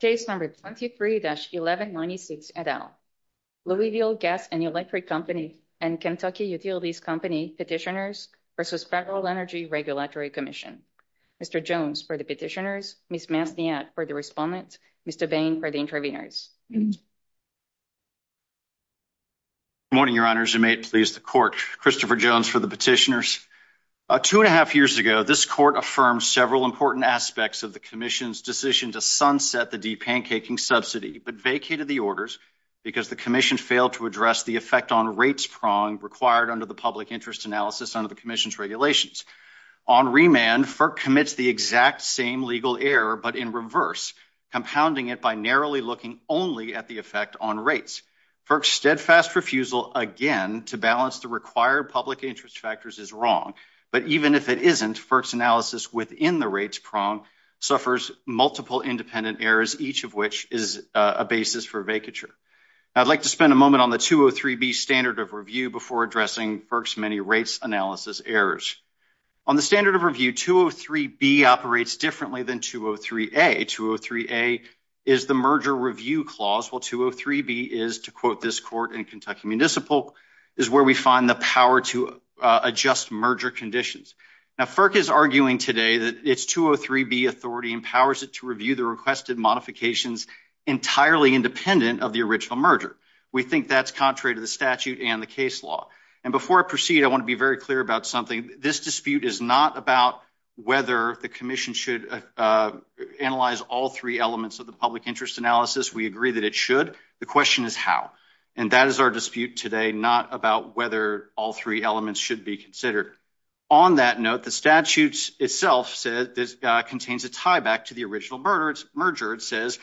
Case number 23-1196 et al. Louisville Gas and Electric Company and Kentucky Utilities Company petitioners versus Federal Energy Regulatory Commission. Mr. Jones for the petitioners, Ms. Masniak for the respondents, Mr. Bain for the interveners. Good morning, your honors. You may please the court. Christopher Jones for the petitioners. Two and a half years ago, this court affirmed several important aspects of the commission's sunset the de-pancaking subsidy but vacated the orders because the commission failed to address the effect on rates prong required under the public interest analysis under the commission's regulations. On remand, FERC commits the exact same legal error but in reverse, compounding it by narrowly looking only at the effect on rates. FERC's steadfast refusal again to balance the required public interest factors is wrong, but even if it isn't, FERC's analysis within the prong suffers multiple independent errors, each of which is a basis for vacature. I'd like to spend a moment on the 203-B standard of review before addressing FERC's many rates analysis errors. On the standard of review, 203-B operates differently than 203-A. 203-A is the merger review clause while 203-B is, to quote this court in Kentucky Municipal, is where we find the power to adjust merger conditions. Now FERC is arguing today that its 203-B authority empowers it to review the requested modifications entirely independent of the original merger. We think that's contrary to the statute and the case law, and before I proceed, I want to be very clear about something. This dispute is not about whether the commission should analyze all three elements of the public interest analysis. We agree that it should. The question is how, and that is our today, not about whether all three elements should be considered. On that note, the statute itself says this contains a tie back to the original merger. It says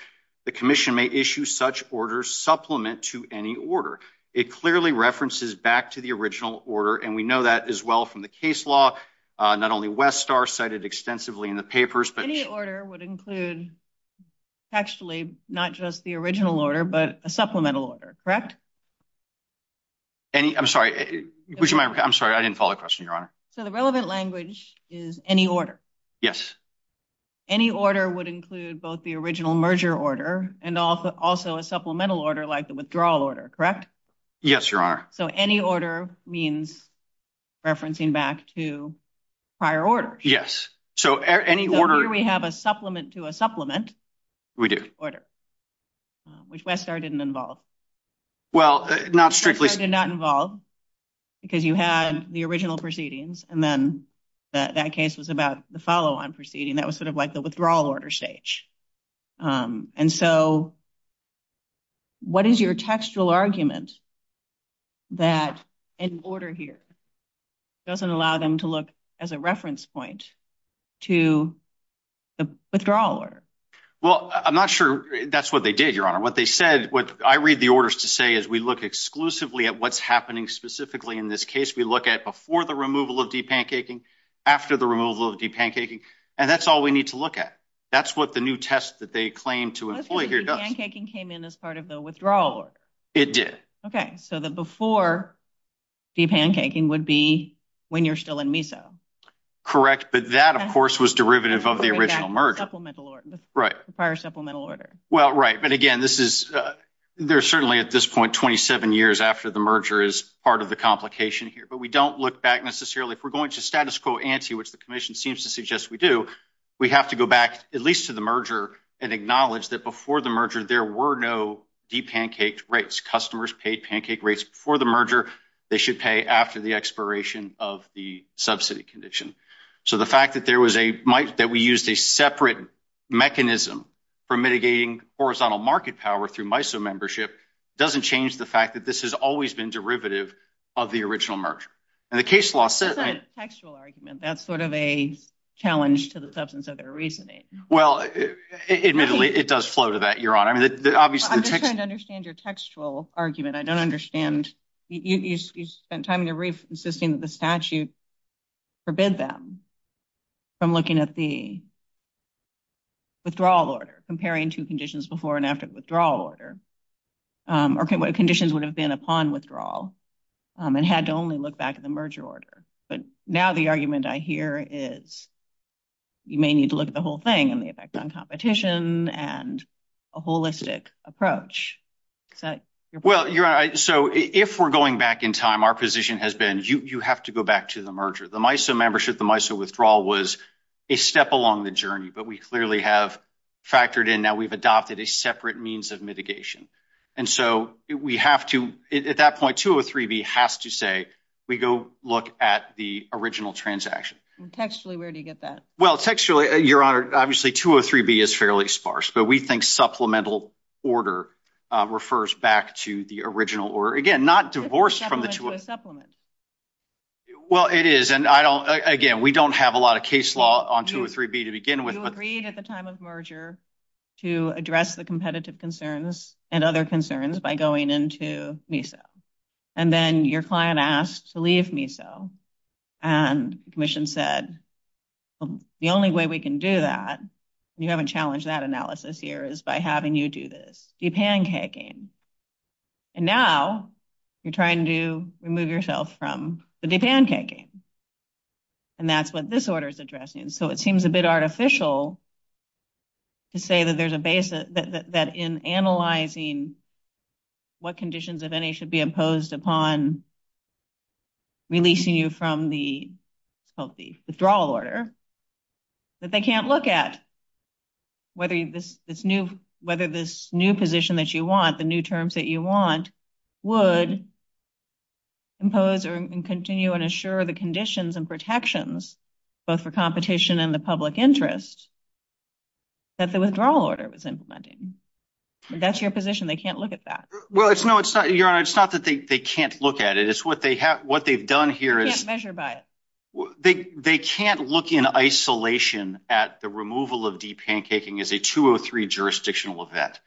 the commission may issue such orders supplement to any order. It clearly references back to the original order, and we know that as well from the case law. Not only Westar cited extensively in the papers, but any order would include actually not just the original order, but a supplemental order, correct? Any, I'm sorry, which am I, I'm sorry, I didn't follow the question, your honor. So the relevant language is any order. Yes. Any order would include both the original merger order and also a supplemental order like the withdrawal order, correct? Yes, your honor. So any order means referencing back to prior orders. Yes, so any order. We have a supplement to a supplement. We do. Order, which Westar didn't involve. Well, not strictly. Westar did not involve because you had the original proceedings, and then that case was about the follow-on proceeding. That was sort of like the withdrawal order stage. And so what is your textual argument that an order here doesn't allow them to look as a reference point to the withdrawal order? Well, I'm not sure that's what they did, your honor. What they said, what I read the orders to say is we look exclusively at what's happening specifically in this case. We look at before the removal of de-pancaking, after the removal of de-pancaking, and that's all we need to look at. That's what the new test that they claim to employ here does. The de-pancaking came in as part of the withdrawal order. It did. Okay, so the before de-pancaking would be when you're still in MISO. Correct, but that of course was derivative of the original merger. Supplemental order. Right. The prior supplemental order. Well, right, but again this is, there's certainly at this point 27 years after the merger is part of the complication here, but we don't look back necessarily. If we're going to status quo ante, which the commission seems to suggest we do, we have to go back at least to the merger and acknowledge that before the merger there were no de-pancaked rates. Customers paid pancake rates before the merger. They should pay after the expiration of the subsidy condition. So the fact that there was a, that we used a separate mechanism for mitigating horizontal market power through MISO membership, doesn't change the fact that this has always been derivative of the original merger. And the case law said. That's not a textual argument. That's sort of a challenge to the substance of their reasoning. Well, admittedly, it does flow to that, your honor. I mean, obviously. I'm just trying to understand your textual argument. I don't understand. You spent time in your brief insisting that the statute forbid them from looking at the withdrawal order, comparing two conditions before and after the withdrawal order, or conditions would have been upon withdrawal and had to only look back at the merger order. But now the argument I hear is you may need to look at the whole thing and the effect on competition and a holistic approach. Well, your honor, so if we're going back in time, our position has been you have to go back to the merger. The MISO membership, the MISO withdrawal was a step along the journey, but we clearly have factored in. Now we've adopted a separate means of mitigation. And so we have to, at that point, 203B has to say we go look at the original transaction. Textually, where do you get that? Well, textually, your honor, obviously 203B is fairly sparse, but we think supplemental order refers back to the original order. Again, not divorced from the supplement. Well, it is. And I don't, again, we don't have a lot of case law on 203B to begin with. You agreed at the time of merger to address the competitive concerns and other concerns by going into MISO. And then your client asked to leave MISO and the commission said, well, the only way we can do that and you haven't challenged that analysis here is by having you do this, de-pancaking. And now you're trying to remove yourself from the de-pancaking. And that's what this order is addressing. So it seems a bit artificial to say that there's a base that in analyzing what conditions of any should be imposed upon releasing you from the withdrawal order that they can't look at whether this new position that you want, the new terms that you want, would impose or continue and assure the conditions and protections, both for competition and the public interest, that the withdrawal order was implementing. That's your position. They can't look at that. Well, it's not, your honor, it's not that they can't look at it. It's what they've done here is they can't look in isolation at the removal of de-pancaking as a 203 jurisdictional event.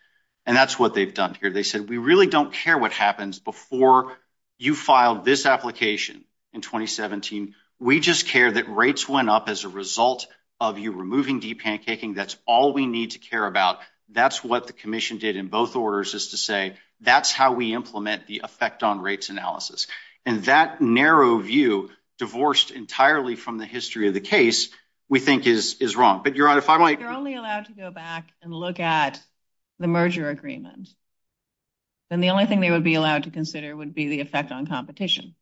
And that's what they've done here. They said, we really don't care what happens before you filed this application in 2017. We just care that rates went up as a result of you removing de-pancaking. That's all we need to care about. That's what the commission did in both orders is to say, that's how we implement the effect on rates analysis. And that narrow view divorced entirely from the history of the case, we think is wrong. But your honor, if I might... They're only allowed to go back and look at the merger agreement. Then the only thing they would be allowed to consider would be the effect on competition.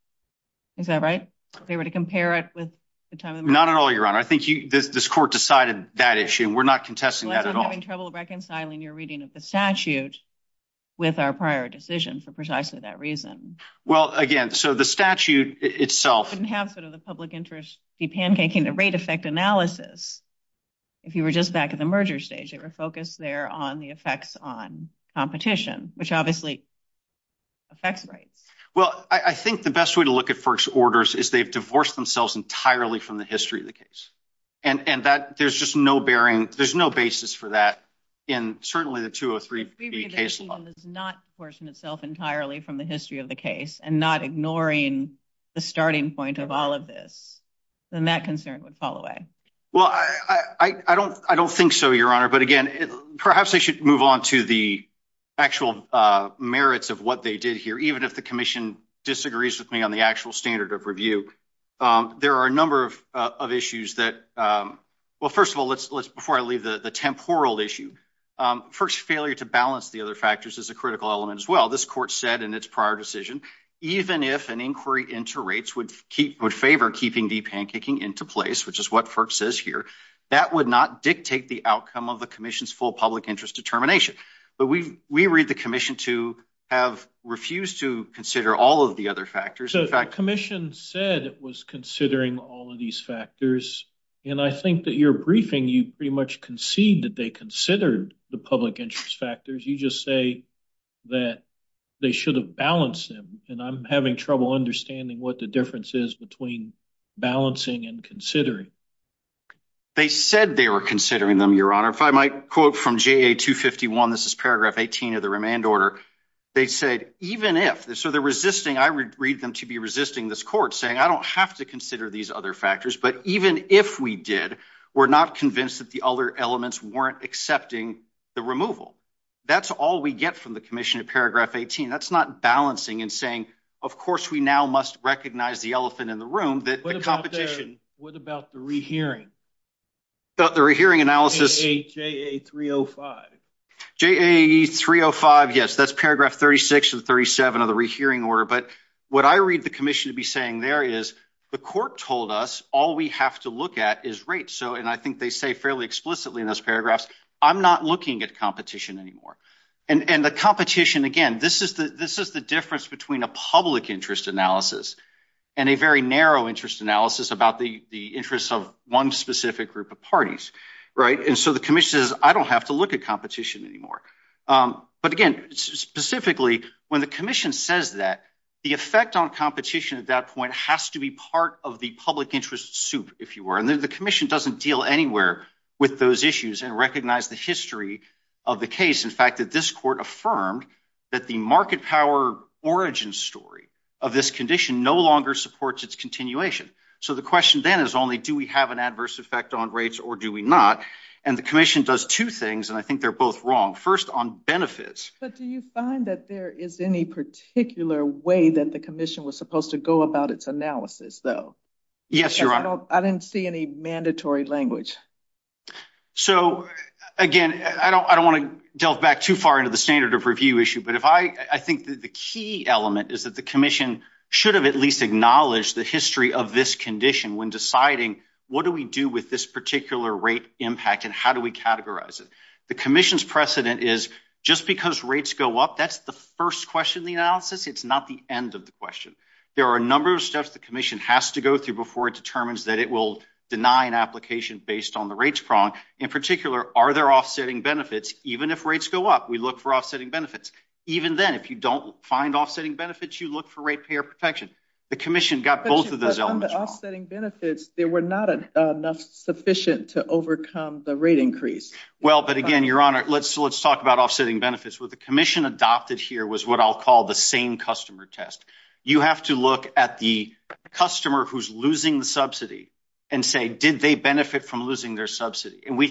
Is that right? If they were to compare it with the time... Not at all, your honor. I think this court decided that issue, we're not contesting that at all. I'm having trouble reconciling your reading of the statute with our prior decision for precisely that reason. Well, again, so the statute itself... Couldn't have sort of the public interest de-pancaking the rate effect analysis. If you were just back at the merger stage, they were focused there on the effects on competition, which obviously affects rates. Well, I think the best way to look at first orders is they've divorced themselves entirely from the history of the case. And that there's just no bearing, there's no basis for that in certainly the 203B case law. If we read it and it does not portion itself entirely from the history of the case and not ignoring the starting point of all of this, then that concern would fall away. Well, I don't think so, your honor. But again, perhaps I should move on to the actual merits of what they did here, even if the commission disagrees with me on the actual standard of review. There are a number of issues that... Well, first of all, before I leave the temporal issue, first failure to balance the other factors is a critical element as well. This court said in its prior decision, even if an inquiry into rates would favor keeping de-pancaking into place, which is what FERC says here, that would not dictate the outcome of the commission's full public interest determination. But we read the commission to have refused to consider all of the other factors. So the commission said it was considering all of these factors. And I think that your briefing, you pretty much concede that they considered the public interest factors. You just say that they should have balanced them. And I'm having trouble understanding what the difference is between balancing and considering. They said they were considering them, your honor. If I might quote from JA 251, this is paragraph 18 of the remand order. They said, even if... So they're resisting, I read them to be resisting this court saying, I don't have to consider these other factors. But even if we did, we're not convinced that the other elements weren't accepting the removal. That's all we get from the commission in paragraph 18. That's not balancing and saying, of course, we now must recognize the elephant in the room, that the competition... What about the rehearing? The rehearing analysis... JA 305. JA 305, yes. That's paragraph 36 and 37 of the rehearing order. But what I read the commission to be saying there is, the court told us all we have to look at is rates. And I think they say fairly explicitly in those paragraphs, I'm not looking at competition anymore. And the competition, again, this is the difference between a public interest analysis and a very narrow interest analysis about the interests of one specific group of parties. And so the commission says, I don't have to look at competition anymore. But again, specifically, when the commission says that the effect on competition at that point has to be part of the public interest soup, if you were. And then the commission doesn't deal anywhere with those issues and recognize the history of the case. In fact, that this court affirmed that the market power origin story of this no longer supports its continuation. So the question then is only, do we have an adverse effect on rates or do we not? And the commission does two things, and I think they're both wrong. First on benefits. But do you find that there is any particular way that the commission was supposed to go about its analysis though? Yes, Your Honor. I didn't see any mandatory language. So again, I don't want to delve back too far into the standard of review issue. But I think that the key element is that the commission should have at least acknowledged the history of this condition when deciding what do we do with this particular rate impact and how do we categorize it? The commission's precedent is just because rates go up, that's the first question in the analysis. It's not the end of the question. There are a number of steps the commission has to go through before it determines that it will deny an application based on the rates prong. In particular, are there offsetting benefits? Even if rates go up, we look for offsetting benefits. Even then, if you don't find offsetting benefits, you look for ratepayer protection. The commission got both of those elements wrong. But on the offsetting benefits, there were not enough sufficient to overcome the rate increase. Well, but again, Your Honor, let's talk about offsetting benefits. What the commission adopted here was what I'll call the same customer test. You have to look at the customer who's losing the subsidy and say, did they benefit from losing their subsidy? And we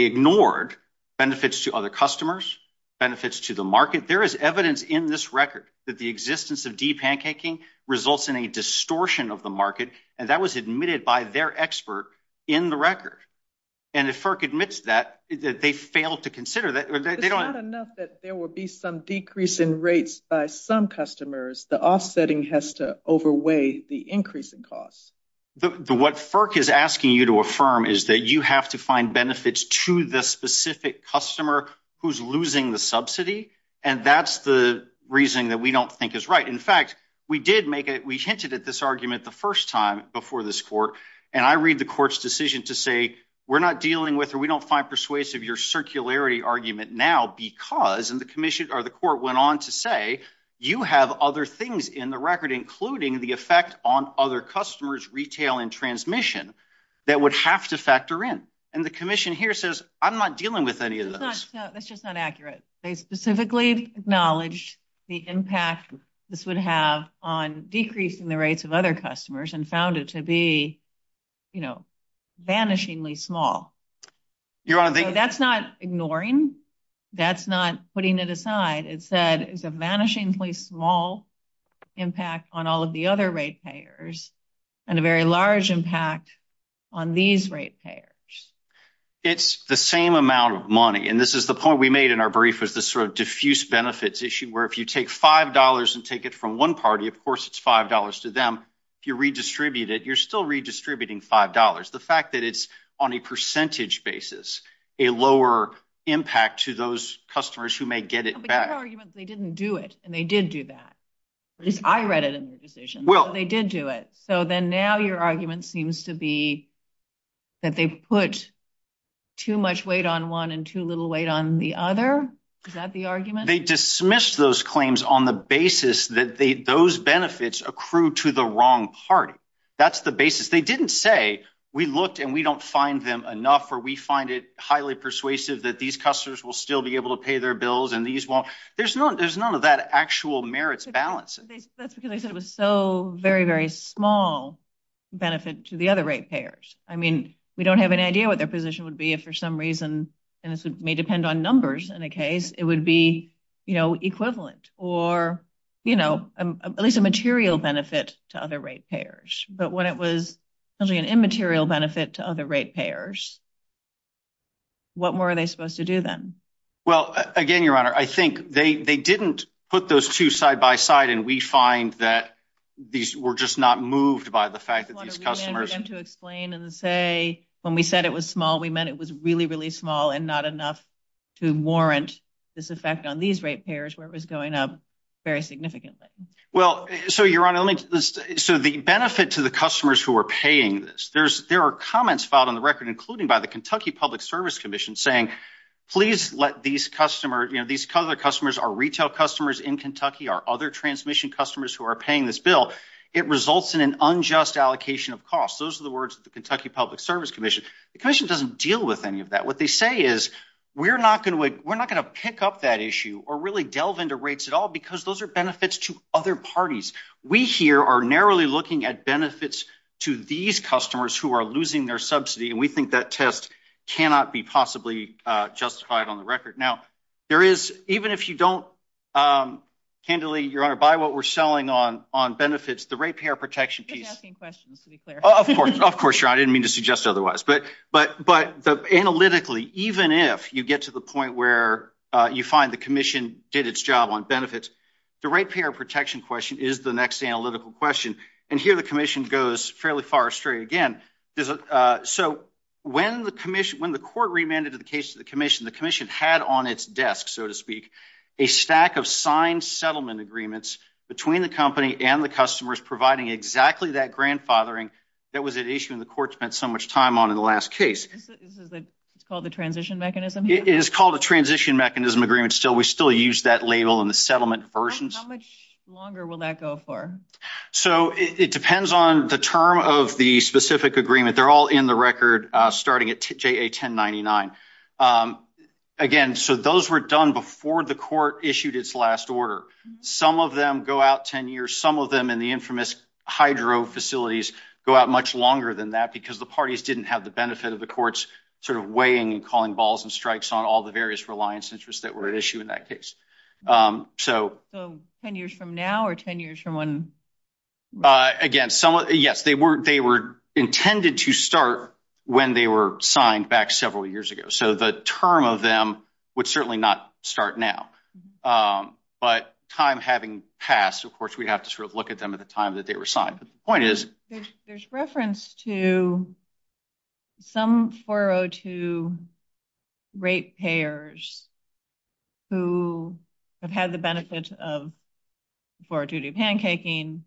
ignored benefits to other customers, benefits to the market. There is evidence in this record that the existence of de-pancaking results in a distortion of the market, and that was admitted by their expert in the record. And if FERC admits that, they failed to consider that. It's not enough that there will be some decrease in rates by some customers. The offsetting has to overweigh the increase in costs. What FERC is asking you to affirm is that you have to find to the specific customer who's losing the subsidy, and that's the reasoning that we don't think is right. In fact, we hinted at this argument the first time before this court, and I read the court's decision to say, we're not dealing with, or we don't find persuasive your circularity argument now because, and the court went on to say, you have other things in the record, including the effect on other customers' retail and transmission that would have to factor in. And the commission here says, I'm not dealing with any of those. That's just not accurate. They specifically acknowledged the impact this would have on decreasing the rates of other customers and found it to be, you know, vanishingly small. That's not ignoring. That's not putting it aside. It said it's a vanishingly small impact on all of the other rate payers and a very large impact on these rate payers. It's the same amount of money, and this is the point we made in our brief was this sort of diffuse benefits issue where if you take $5 and take it from one party, of course it's $5 to them. If you redistribute it, you're still redistributing $5. The fact that it's on a percentage basis, a lower impact to those customers who may get it back. But your argument is they didn't do it, and they did do that. At least I read it in the decision. Well. They did do it. So then now your argument seems to be that they put too much weight on one and too little weight on the other. Is that the argument? They dismissed those claims on the basis that those benefits accrue to the wrong party. That's the basis. They didn't say we looked and we don't find them enough or we find it highly persuasive that these customers will still be able to pay their bills and these won't. There's none of that actual merits balance. That's because I said it was so very, very small benefit to the other rate payers. I mean, we don't have an idea what their position would be if for some reason, and this may depend on numbers in a case, it would be equivalent or at least a material benefit to other rate payers. But when it was an immaterial benefit to other rate payers, what more are they supposed to do then? Well, again, your honor, I think they didn't put those two side by side, and we find that these were just not moved by the fact that these customers to explain and say, when we said it was small, we meant it was really, really small and not enough to warrant this effect on these rate payers where it was going up very significantly. Well, so your honor, so the benefit to the customers who are paying this, there's there are comments filed on the record, including by the Kentucky Public Service Commission saying, please let these customers, you know, these other customers, our retail customers in Kentucky, our other transmission customers who are paying this bill, it results in an unjust allocation of costs. Those are the words of the Kentucky Public Service Commission. The commission doesn't deal with any of that. What they say is, we're not going to, we're not going to pick up that issue or really delve into rates at all, because those are benefits to other parties. We here are narrowly looking at benefits to these customers who are losing their subsidy, and we think that test cannot be possibly justified on the record. Now, there is, even if you don't, candidly, your honor, by what we're selling on benefits, the rate payer protection piece. Suggesting questions, to be clear. Of course, of course, your honor, I didn't mean to suggest otherwise. But analytically, even if you get to the point where you find the commission did its job on benefits, the rate payer protection question is the next analytical question. And here the commission goes fairly far astray again. There's a, so when the commission, when the court remanded the case to the commission, the commission had on its desk, so to speak, a stack of signed settlement agreements between the company and the customers providing exactly that grandfathering that was at issue in the court spent so much time on in the last case. This is the, it's called the transition mechanism. It is called a transition mechanism agreement. Still, we still use that label in the settlement versions. How much longer will that go for? So it depends on the term of the specific agreement. They're all in the record, starting at JA 1099. Again, so those were done before the court issued its last order. Some of them go out 10 years. Some of them in the infamous hydro facilities go out much longer than that because the parties didn't have the benefit of the courts sort of weighing and calling balls and strikes on all the various reliance interests that were at issue in that case. So 10 years from now or 10 years from when? Again, somewhat, yes, they were intended to start when they were signed back several years ago. So the term of them would certainly not start now. But time having passed, of course, we'd have to sort of look at them at the time that they were signed. But the point is, there's reference to some 402 rate payers who have had the benefit of 402 pancaking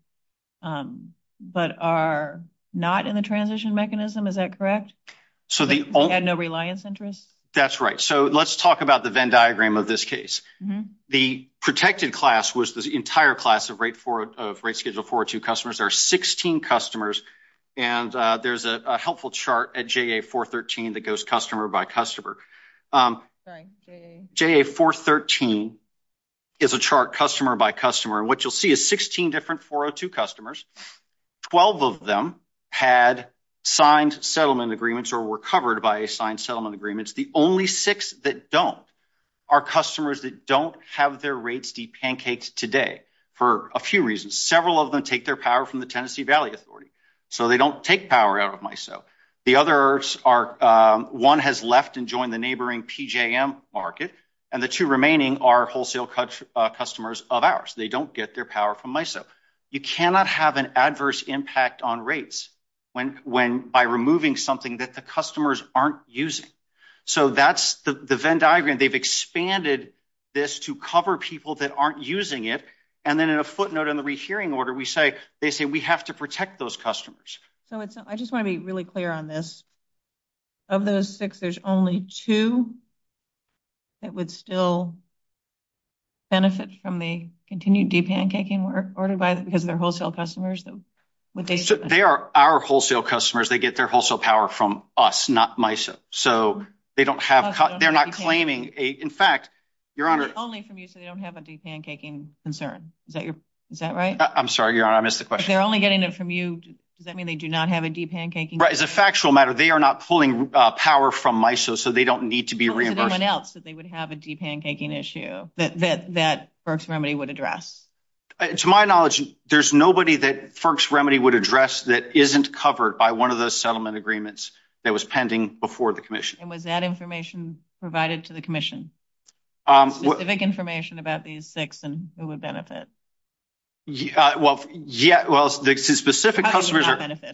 but are not in the transition mechanism. Is that correct? They had no reliance interest? That's right. So let's talk about the Venn diagram of this case. The protected class was entire class of rate schedule 402 customers. There are 16 customers and there's a helpful chart at JA413 that goes customer by customer. JA413 is a chart customer by customer. What you'll see is 16 different 402 customers. 12 of them had signed settlement agreements or were covered by signed settlement agreements. The only six that don't are customers that don't have their pancakes today for a few reasons. Several of them take their power from the Tennessee Valley Authority. So they don't take power out of MISO. The other one has left and joined the neighboring PJM market. And the two remaining are wholesale customers of ours. They don't get their power from MISO. You cannot have an adverse impact on rates by removing something that the customers aren't using. So that's the Venn diagram. They've expanded this to cover people that aren't using it. And then in a footnote in the rehearing order, they say we have to protect those customers. So I just want to be really clear on this. Of those six, there's only two that would still benefit from the continued deep pancaking ordered by because of their wholesale customers? They are our wholesale customers. They get their wholesale power from us, not MISO. So they don't have, they're not claiming a, in fact, your honor, only from you. So they don't have a deep pancaking concern. Is that your, is that right? I'm sorry, your honor. I missed the question. They're only getting it from you. Does that mean they do not have a deep pancaking? Right. As a factual matter, they are not pulling power from MISO. So they don't need to be reimbursed. Anyone else that they would have a deep pancaking issue that, that, FERC's remedy would address? To my knowledge, there's nobody that FERC's remedy would address that isn't covered by one of those settlement agreements that was pending before the commission. And was that information provided to the commission? Specific information about these six and who would benefit? Well, yeah, well, the specific customers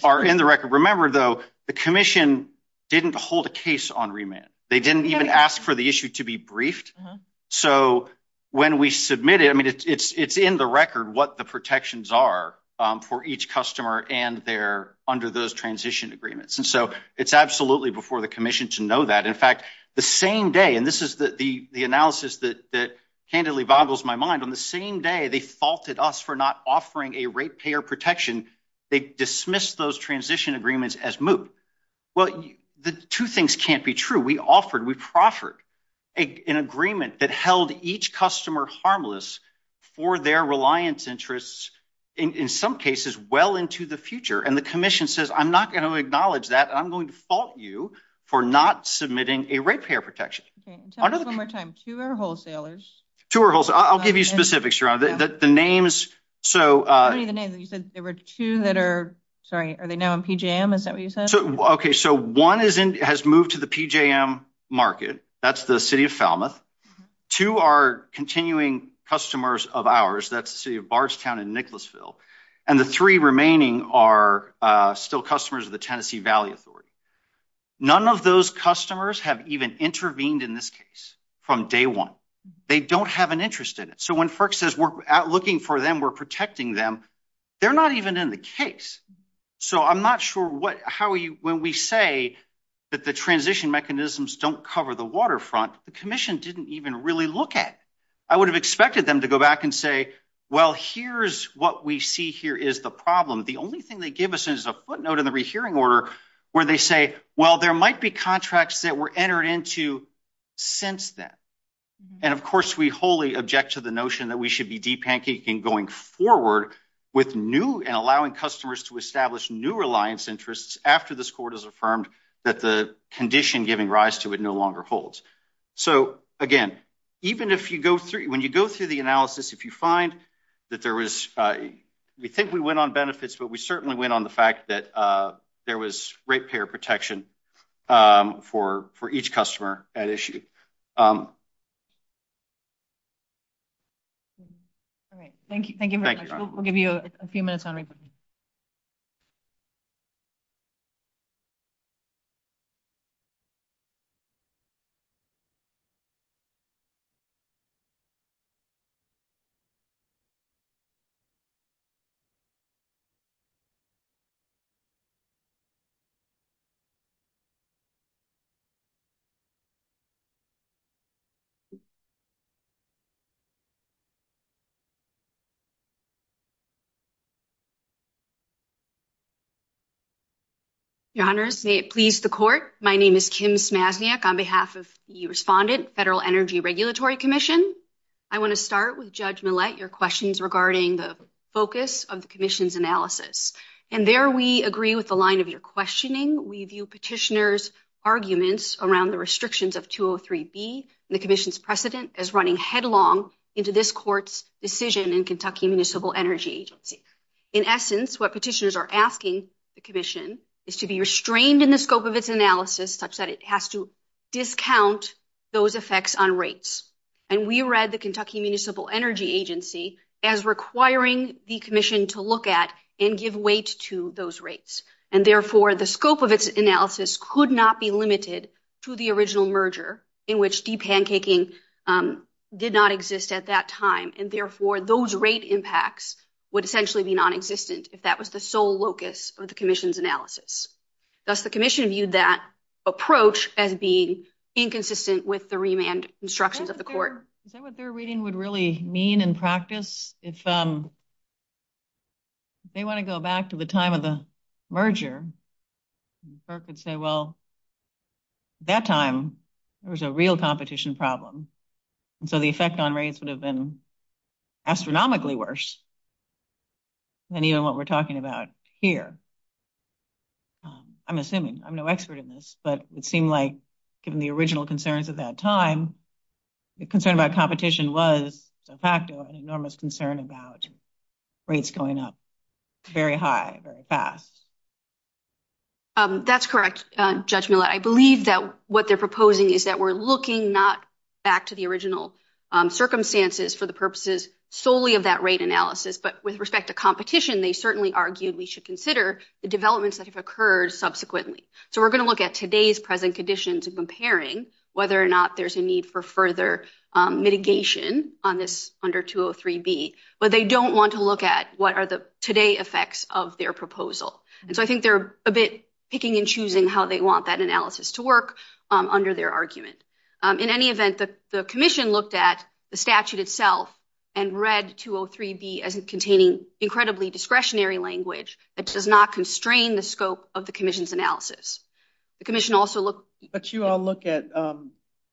are in the record. Remember though, the commission didn't hold a case on remand. They didn't even ask for the submitted. I mean, it's, it's, it's in the record what the protections are for each customer and they're under those transition agreements. And so it's absolutely before the commission to know that. In fact, the same day, and this is the, the, the analysis that, that candidly boggles my mind on the same day, they faulted us for not offering a rate payer protection. They dismissed those transition agreements as moot. Well, the two things can't be true. We offered, we proffered a, an agreement that held each customer harmless for their reliance interests in, in some cases, well into the future. And the commission says, I'm not going to acknowledge that I'm going to fault you for not submitting a rate payer protection. Okay. One more time. Two are wholesalers. Two are wholesalers. I'll give you specifics your honor. The, the, the names. So, uh. What are the names? You said there were two that are, sorry, are they now in PJM? Is that what you said? Okay. So one is in, has moved to the PJM market. That's the city of Falmouth. Two are continuing customers of ours. That's the city of Bardstown and Nicholasville. And the three remaining are still customers of the Tennessee Valley Authority. None of those customers have even intervened in this case from day one. They don't have an interest in it. So when FERC says we're out looking for them, we're protecting them. They're not even in the case. So I'm not sure what, how are you, when we say that the transition mechanisms don't cover the waterfront, the commission didn't even really look at. I would have expected them to go back and say, well, here's what we see here is the problem. The only thing they give us is a footnote in the rehearing order where they say, well, there might be contracts that were entered into since then. And of course we wholly object to the notion that we should be deep pancaking going forward with new and allowing customers to establish new reliance interests after this court has affirmed that the condition giving rise to it no longer holds. So again, even if you go through, when you go through the analysis, if you find that there was, we think we went on benefits, but we certainly went on the fact that there was ratepayer protection for each customer at issue. All right. Thank you. Thank you very much. We'll give you a few minutes on reporting. Your honors, may it please the court. My name is Kim Smazniak on behalf of the respondent, Federal Energy Regulatory Commission. I want to start with Judge Millett, your questions regarding the focus of the commission's analysis. And there we agree with the line of your questioning. We the commission's precedent as running headlong into this court's decision in Kentucky Municipal Energy Agency. In essence, what petitioners are asking the commission is to be restrained in the scope of its analysis such that it has to discount those effects on rates. And we read the Kentucky Municipal Energy Agency as requiring the commission to look at and give weight to those rates. And deep pancaking did not exist at that time. And therefore, those rate impacts would essentially be nonexistent if that was the sole locus of the commission's analysis. Thus, the commission viewed that approach as being inconsistent with the remand instructions of the court. Is that what their reading would really mean in practice? If they want to go back to the time of the merger, the court could say, well, at that time, there was a real competition problem. And so the effect on rates would have been astronomically worse than even what we're talking about here. I'm assuming, I'm no expert in this, but it seemed like given the original concerns at that time, the concern about competition was de facto an enormous concern about rates going up very high, very fast. That's correct, Judge Millett. I believe that what they're proposing is that we're looking not back to the original circumstances for the purposes solely of that rate analysis, but with respect to competition, they certainly argued we should consider the developments that have occurred subsequently. So we're going to look at today's present conditions and comparing whether or not there's a need for further mitigation on under 203B, but they don't want to look at what are the today effects of their proposal. And so I think they're a bit picking and choosing how they want that analysis to work under their argument. In any event, the commission looked at the statute itself and read 203B as containing incredibly discretionary language that does not constrain the scope of the commission's analysis. But you all look at,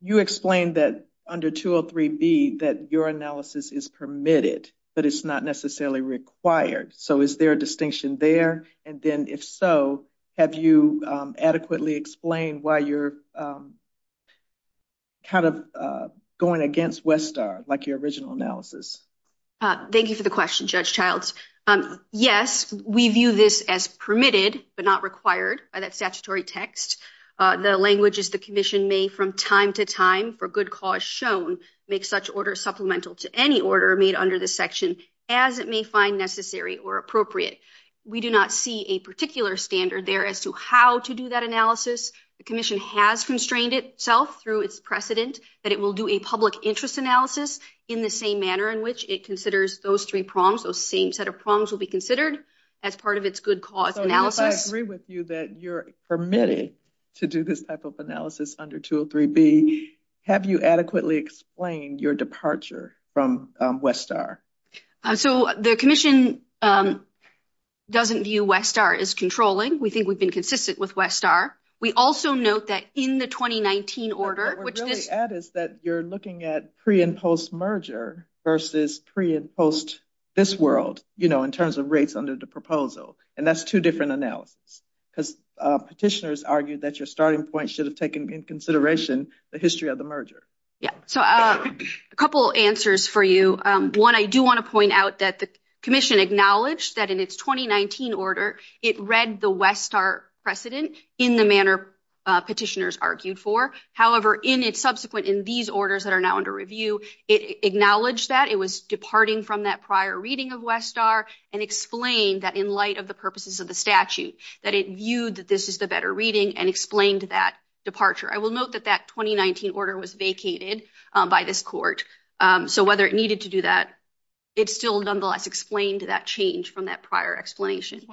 you explained that under 203B that your analysis is permitted, but it's not necessarily required. So is there a distinction there? And then if so, have you adequately explained why you're kind of going against Westar like your original analysis? Thank you for the question, Judge Childs. Yes, we view this as permitted, but not required by that text. The language is the commission may from time to time for good cause shown make such order supplemental to any order made under this section as it may find necessary or appropriate. We do not see a particular standard there as to how to do that analysis. The commission has constrained itself through its precedent that it will do a public interest analysis in the same manner in which it considers those three prongs, those same set of prongs will be considered as part of its good cause analysis. So if I agree with you that you're permitted to do this type of analysis under 203B, have you adequately explained your departure from Westar? So the commission doesn't view Westar as controlling. We think we've been consistent with Westar. We also note that in the 2019 order, which this... What we're really at is that you're looking at pre and post merger versus pre and post this world, you know, in terms of rates under the proposal. And that's two different analysis because petitioners argued that your starting point should have taken in consideration the history of the merger. Yeah, so a couple answers for you. One, I do want to point out that the commission acknowledged that in its 2019 order, it read the Westar precedent in the manner petitioners argued for. However, in its subsequent, in these orders that are now under review, it acknowledged that it was departing from that prior reading of Westar and explained that in light of the purposes of the statute, that it viewed that this is the better reading and explained that departure. I will note that that 2019 order was vacated by this court. So whether it needed to do that, it still nonetheless explained that change from that prior explanation. Is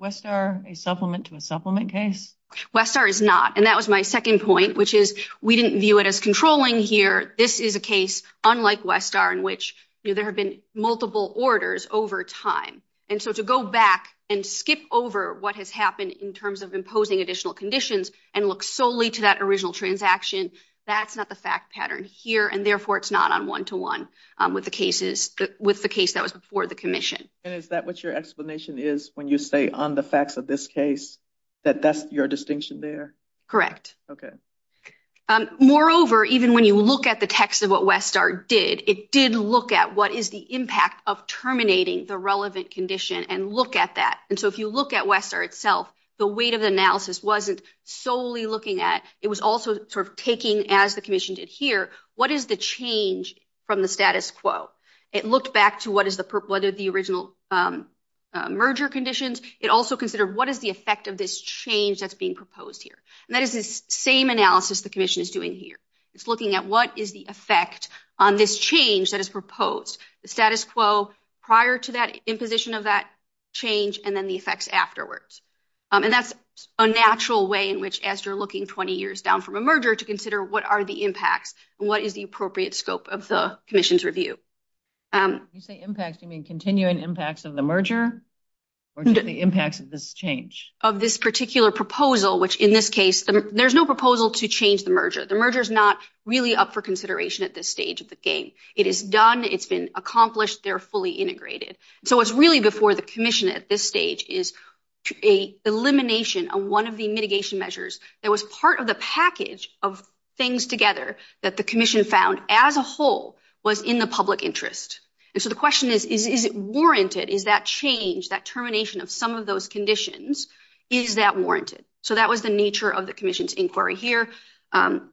Westar a supplement to a supplement case? Westar is not. And that was my second point, which is we didn't view it as controlling here. This is a case unlike Westar in which there have been multiple orders over time. And so to go back and skip over what has happened in terms of imposing additional conditions and look solely to that original transaction, that's not the fact pattern here. And therefore it's not on one-to-one with the case that was before the commission. And is that what your explanation is when you say on the facts of this case that that's your distinction there? Correct. Okay. Moreover, even when you look at the text of Westar did, it did look at what is the impact of terminating the relevant condition and look at that. And so if you look at Westar itself, the weight of the analysis wasn't solely looking at, it was also sort of taking as the commission did here, what is the change from the status quo? It looked back to what is the original merger conditions. It also considered what is the effect of this change that's being proposed here? And that is this same analysis the commission is doing here. It's looking at what is the effect on this change that is proposed. The status quo prior to that imposition of that change and then the effects afterwards. And that's a natural way in which as you're looking 20 years down from a merger to consider what are the impacts and what is the appropriate scope of the commission's review. When you say impacts, do you mean continuing impacts of the merger or just the impacts of this change? Of this particular proposal, which in this case, there's no proposal to change the merger. The merger is not really up for consideration at this stage of the game. It is done. It's been accomplished. They're fully integrated. So it's really before the commission at this stage is an elimination of one of the mitigation measures that was part of the package of things together that the commission found as a whole was in the public interest. And so the question is, is it warranted? Is that change, that termination of some of those conditions, is that warranted? So that was the nature of the commission's inquiry here. How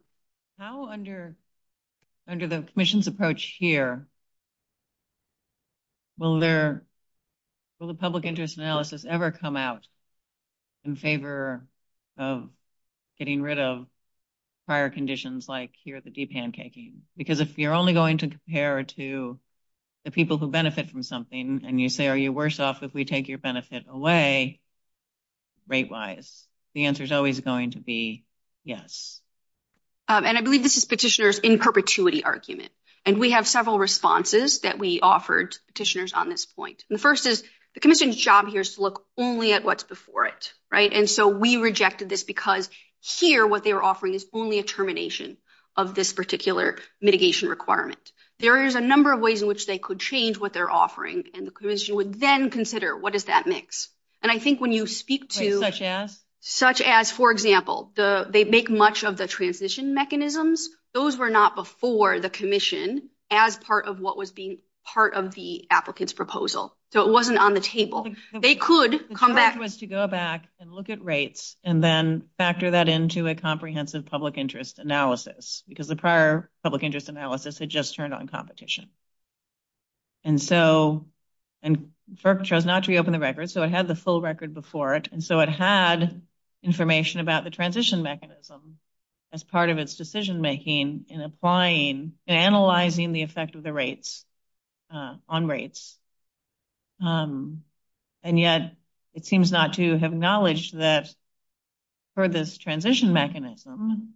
under the commission's approach here, will the public interest analysis ever come out in favor of getting rid of prior conditions like here at the deep pancaking? Because if you're only going to compare to the people who benefit from something and you say, are you worse off if we take your benefit away rate-wise? The answer is always going to be yes. And I believe this is petitioners in perpetuity argument. And we have several responses that we offered petitioners on this point. The first is the commission's job here is to look only at what's before it, right? And so we rejected this because here, what they were offering is only a termination of this particular mitigation requirement. There is a number of ways in which they could change what they're offering. And the commission would then consider, what does that mix? And I think when you speak to... Such as? Such as, for example, they make much of the transition mechanisms. Those were not before the commission as part of what was being part of the applicant's proposal. So it wasn't on the table. They could come back... The charge was to go back and look at rates and then factor that into a comprehensive public interest analysis. Because the prior public interest analysis had just turned on competition. And so FERC chose not to reopen the record. So it had the full record before it. And so it had information about the transition mechanism as part of its decision making in applying and analyzing the effect of the rates on rates. And yet, it seems not to have acknowledged that for this transition mechanism,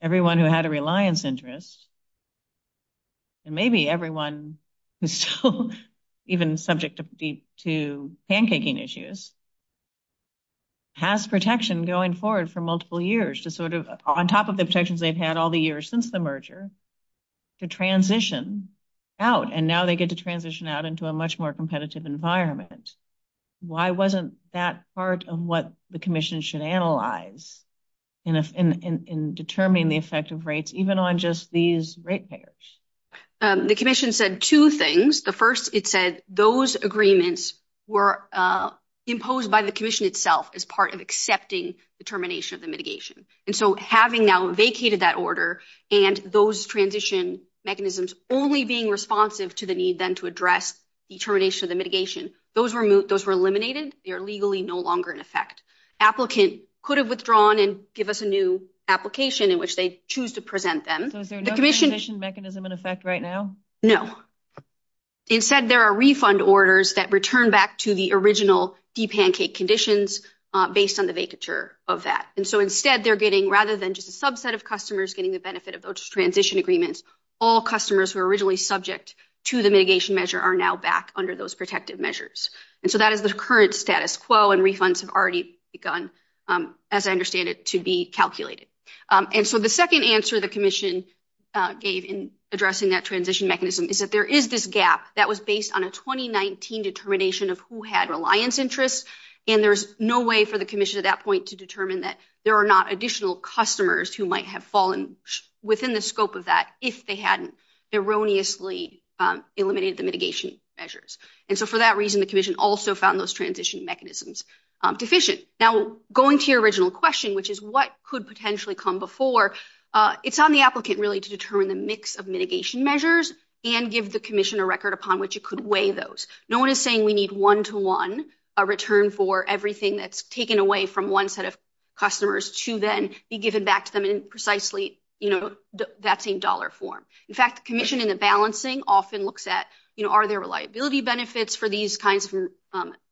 everyone who had a reliance interest, and maybe everyone who's still even subject to pancaking issues, has protection going forward for multiple years to sort of, on top of the protections they've had all the years since the merger, to transition out. And now they get to transition out into a much more competitive environment. Why wasn't that part of what the commission should analyze in determining the effect of rates, even on just these rate payers? The commission said two things. The first, it said those agreements were imposed by the commission itself as part of accepting the termination of the mitigation. And so having now vacated that order and those transition mechanisms only being responsive to the need to address the termination of the mitigation, those were eliminated. They are legally no longer in effect. Applicant could have withdrawn and give us a new application in which they choose to present them. So is there no transition mechanism in effect right now? No. Instead, there are refund orders that return back to the original deep pancake conditions based on the vacature of that. And so instead, they're getting, rather than just a subset of customers getting the benefit of those transition agreements, all customers who were originally subject to the mitigation measure are now back under those protective measures. And so that is the current status quo and refunds have already begun, as I understand it, to be calculated. And so the second answer the commission gave in addressing that transition mechanism is that there is this gap that was based on a 2019 determination of who had reliance interests. And there's no way for the commission at that point to determine that there are not additional customers who might have fallen within the scope of that if they hadn't erroneously eliminated the mitigation measures. And so for that reason, the commission also found those transition mechanisms deficient. Now, going to your original question, which is what could potentially come before, it's on the applicant really to determine the mix of mitigation measures and give the commission a record upon which it could weigh those. No one is saying we need one-to-one a return for everything that's taken away from one set of customers to then be given back to them in precisely, you know, that same dollar form. In fact, the commission in the balancing often looks at, you know, are there reliability benefits for these kinds of,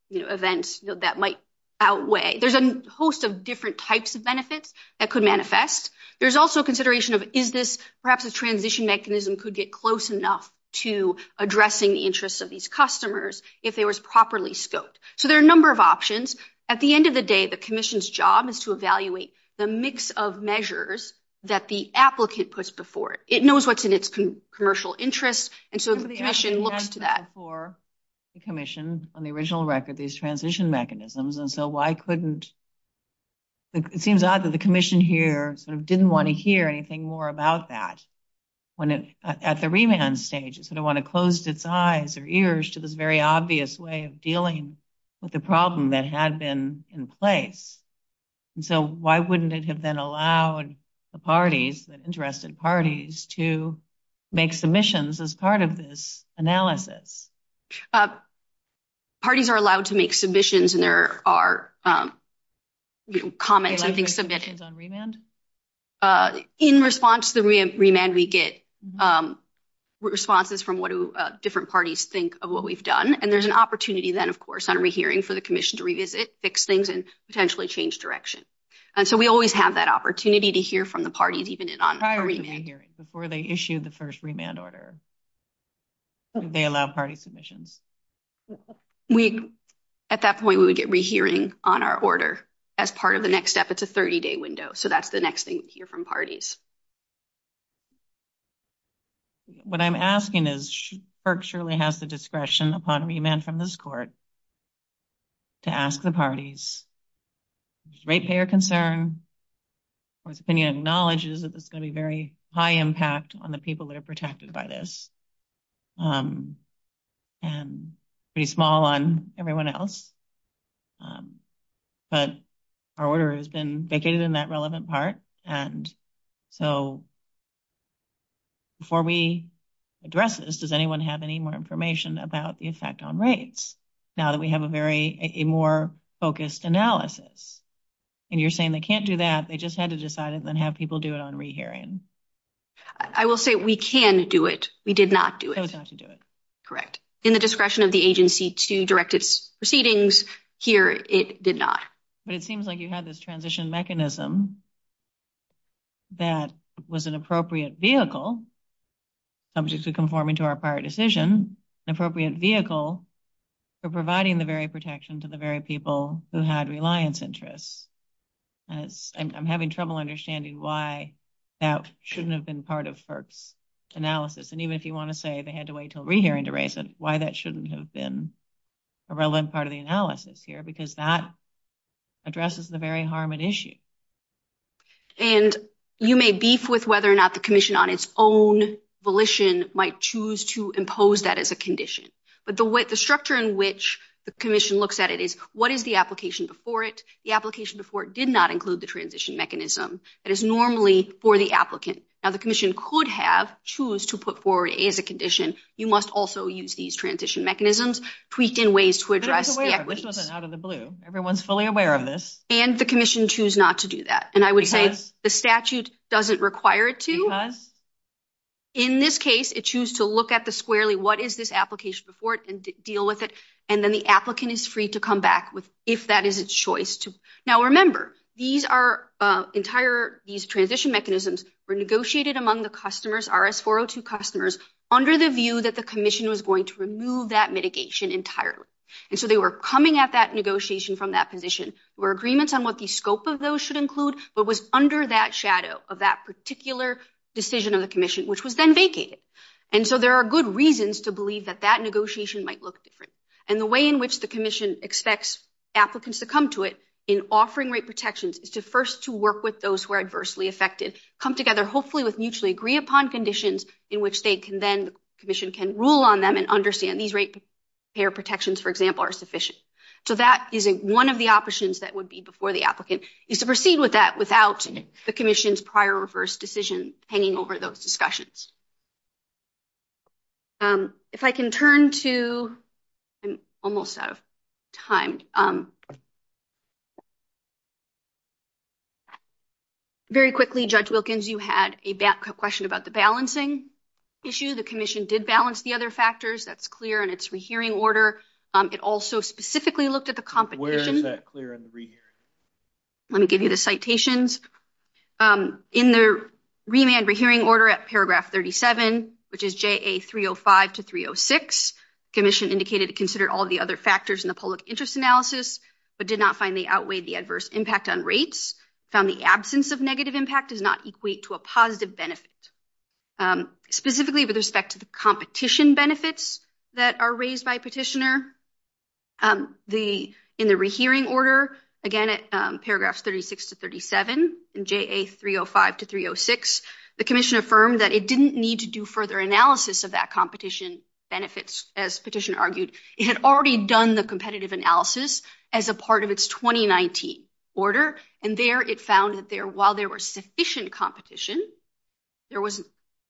you know, events that might outweigh. There's a host of different types of benefits that could manifest. There's also consideration of is this perhaps a transition mechanism could get close enough to addressing the interests of these customers if there was properly scoped. So there are a number of options. At the end of the day, the commission's job is to evaluate the mix of measures that the applicant puts before it. It knows what's in its commercial interest, and so the commission looks to that. I remember the action we had before the commission on the original record, these transition mechanisms, and so why couldn't, it seems odd that the commission here sort of didn't want to hear anything more about that when it, at the remand stage, it sort of want to close its eyes or ears to this very obvious way of dealing with the problem that had been in place. And so why wouldn't it have then allowed the parties, the interested parties, to make submissions as part of this analysis? Parties are allowed to make submissions, and there are, you know, comments and things submitted. In response to the remand, we get responses from what different parties think of what we've done, and there's an opportunity then, of course, on rehearing for the commission to revisit, fix things, and potentially change direction. And so we always have that opportunity to hear from the parties, even on a remand. Prior to the hearing, before they issue the first remand order, they allow party submissions. We, at that point, we would get rehearing on our order as part of the next step. It's a 30-day window, so that's the next thing we hear from parties. What I'm asking is, FERC surely has the discretion upon remand from this court to ask the parties if there's ratepayer concern, or its opinion acknowledges that there's going to be very high impact on the people that are protected by this, and pretty small on everyone else. But our order has been vacated in that relevant part, and so before we address this, does anyone have any more information about the effect on rates, now that we have a very, a more focused analysis? And you're saying they can't do that, they just had to decide and then have people do it on rehearing. I will say we can do it. We did not do it. Correct. In the discretion of the agency to direct its proceedings here, it did not. But it seems like you had this transition mechanism that was an appropriate vehicle, subject to conforming to our prior decision, appropriate vehicle for providing the very protection to the very people who had reliance interests. I'm having trouble understanding why that shouldn't have been part of FERC's analysis, and even if you want to say they had to wait until rehearing to raise it, that shouldn't have been a relevant part of the analysis here, because that addresses the very harm at issue. And you may beef with whether or not the commission on its own volition might choose to impose that as a condition, but the structure in which the commission looks at it is, what is the application before it? The application before it did not include the transition mechanism that is normally for the applicant. Now the commission could have chosen to put forward as a condition, you must also use these transition mechanisms, tweaked in ways to address the equities. This wasn't out of the blue. Everyone's fully aware of this. And the commission chose not to do that. And I would say the statute doesn't require it to. In this case, it chose to look at the squarely what is this application before it and deal with it, and then the applicant is free to come back if that is its choice. Now remember, these are entire, these transition mechanisms were negotiated among the customers, RS402 customers, under the view that the commission was going to remove that mitigation entirely. And so they were coming at that negotiation from that position, where agreements on what the scope of those should include, but was under that shadow of that particular decision of the commission, which was then vacated. And so there are good reasons to believe that that negotiation might look different. And the way in which the commission expects applicants to come to it in offering rate protections is to first to work with those who are adversely affected, come together hopefully with mutually agree upon conditions in which they can then, the commission can rule on them and understand these rate payer protections, for example, are sufficient. So that is one of the options that would be before the applicant is to proceed with that without the commission's prior or reverse decision hanging over those discussions. If I can turn to, I'm almost out of time. Very quickly, Judge Wilkins, you had a question about the balancing issue. The commission did balance the other factors. That's clear in its rehearing order. It also specifically looked at the competition. Where is that clear in the rehearing order? Let me give you the citations. In the remand rehearing order at paragraph 33, which is JA 305 to 306, the commission indicated it considered all the other factors in the public interest analysis, but did not find they outweighed the adverse impact on rates. Found the absence of negative impact does not equate to a positive benefit. Specifically with respect to the competition benefits that are raised by petitioner, in the rehearing order, again at paragraphs 36 to 37 and JA 305 to 306, the commission affirmed that it didn't need to do further analysis of that competition benefits as petitioner argued. It had already done the competitive analysis as a part of its 2019 order, and there it found that while there were sufficient competition, there was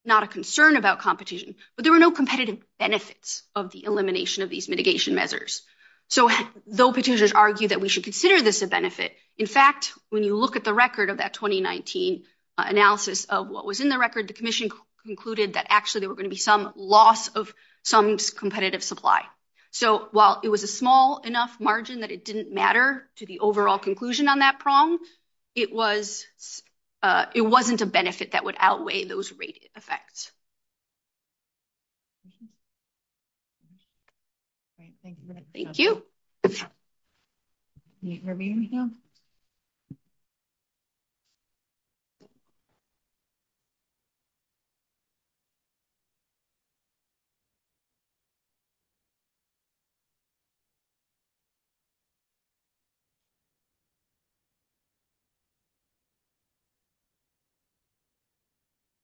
not a concern about competition, but there were no competitive benefits of the elimination of these mitigation measures. Though petitioners argued that we should consider this a benefit, in fact, when you look at the 2019 analysis of what was in the record, the commission concluded that actually there were going to be some loss of some competitive supply. So while it was a small enough margin that it didn't matter to the overall conclusion on that prong, it wasn't a benefit that would outweigh those rate effects. Great, thank you very much. Thank you.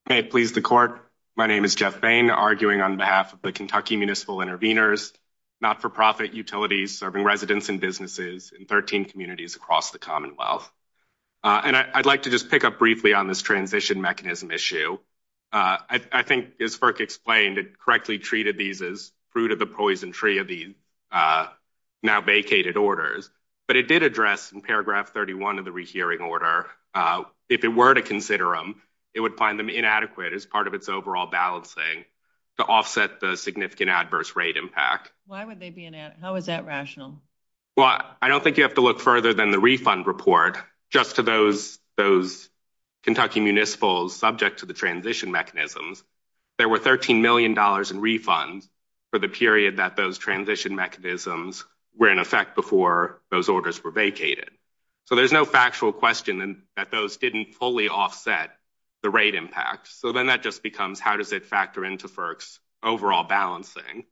May it please the court, my name is Jeff Bain, arguing on behalf of the Kentucky Municipal Intervenors, not-for-profit utilities serving residents and businesses in 13 communities across the Commonwealth. And I'd like to just pick up briefly on this transition mechanism issue. I think as FERC explained, it correctly treated these as fruit of the poison tree of the now vacated orders, but it did address in paragraph 31 of the rehearing order, if it were to consider them, it would find them inadequate as part of its overall balancing to offset the significant adverse rate impact. Why would they be inadequate? How is that rational? Well, I don't think you have to look further than the refund report just to those Kentucky Municipals subject to the transition mechanisms. There were $13 million in refunds for the period that those transition mechanisms were in effect before those orders were vacated. So there's no actual question that those didn't fully offset the rate impact. So then that just becomes, how does it factor into FERC's overall balancing?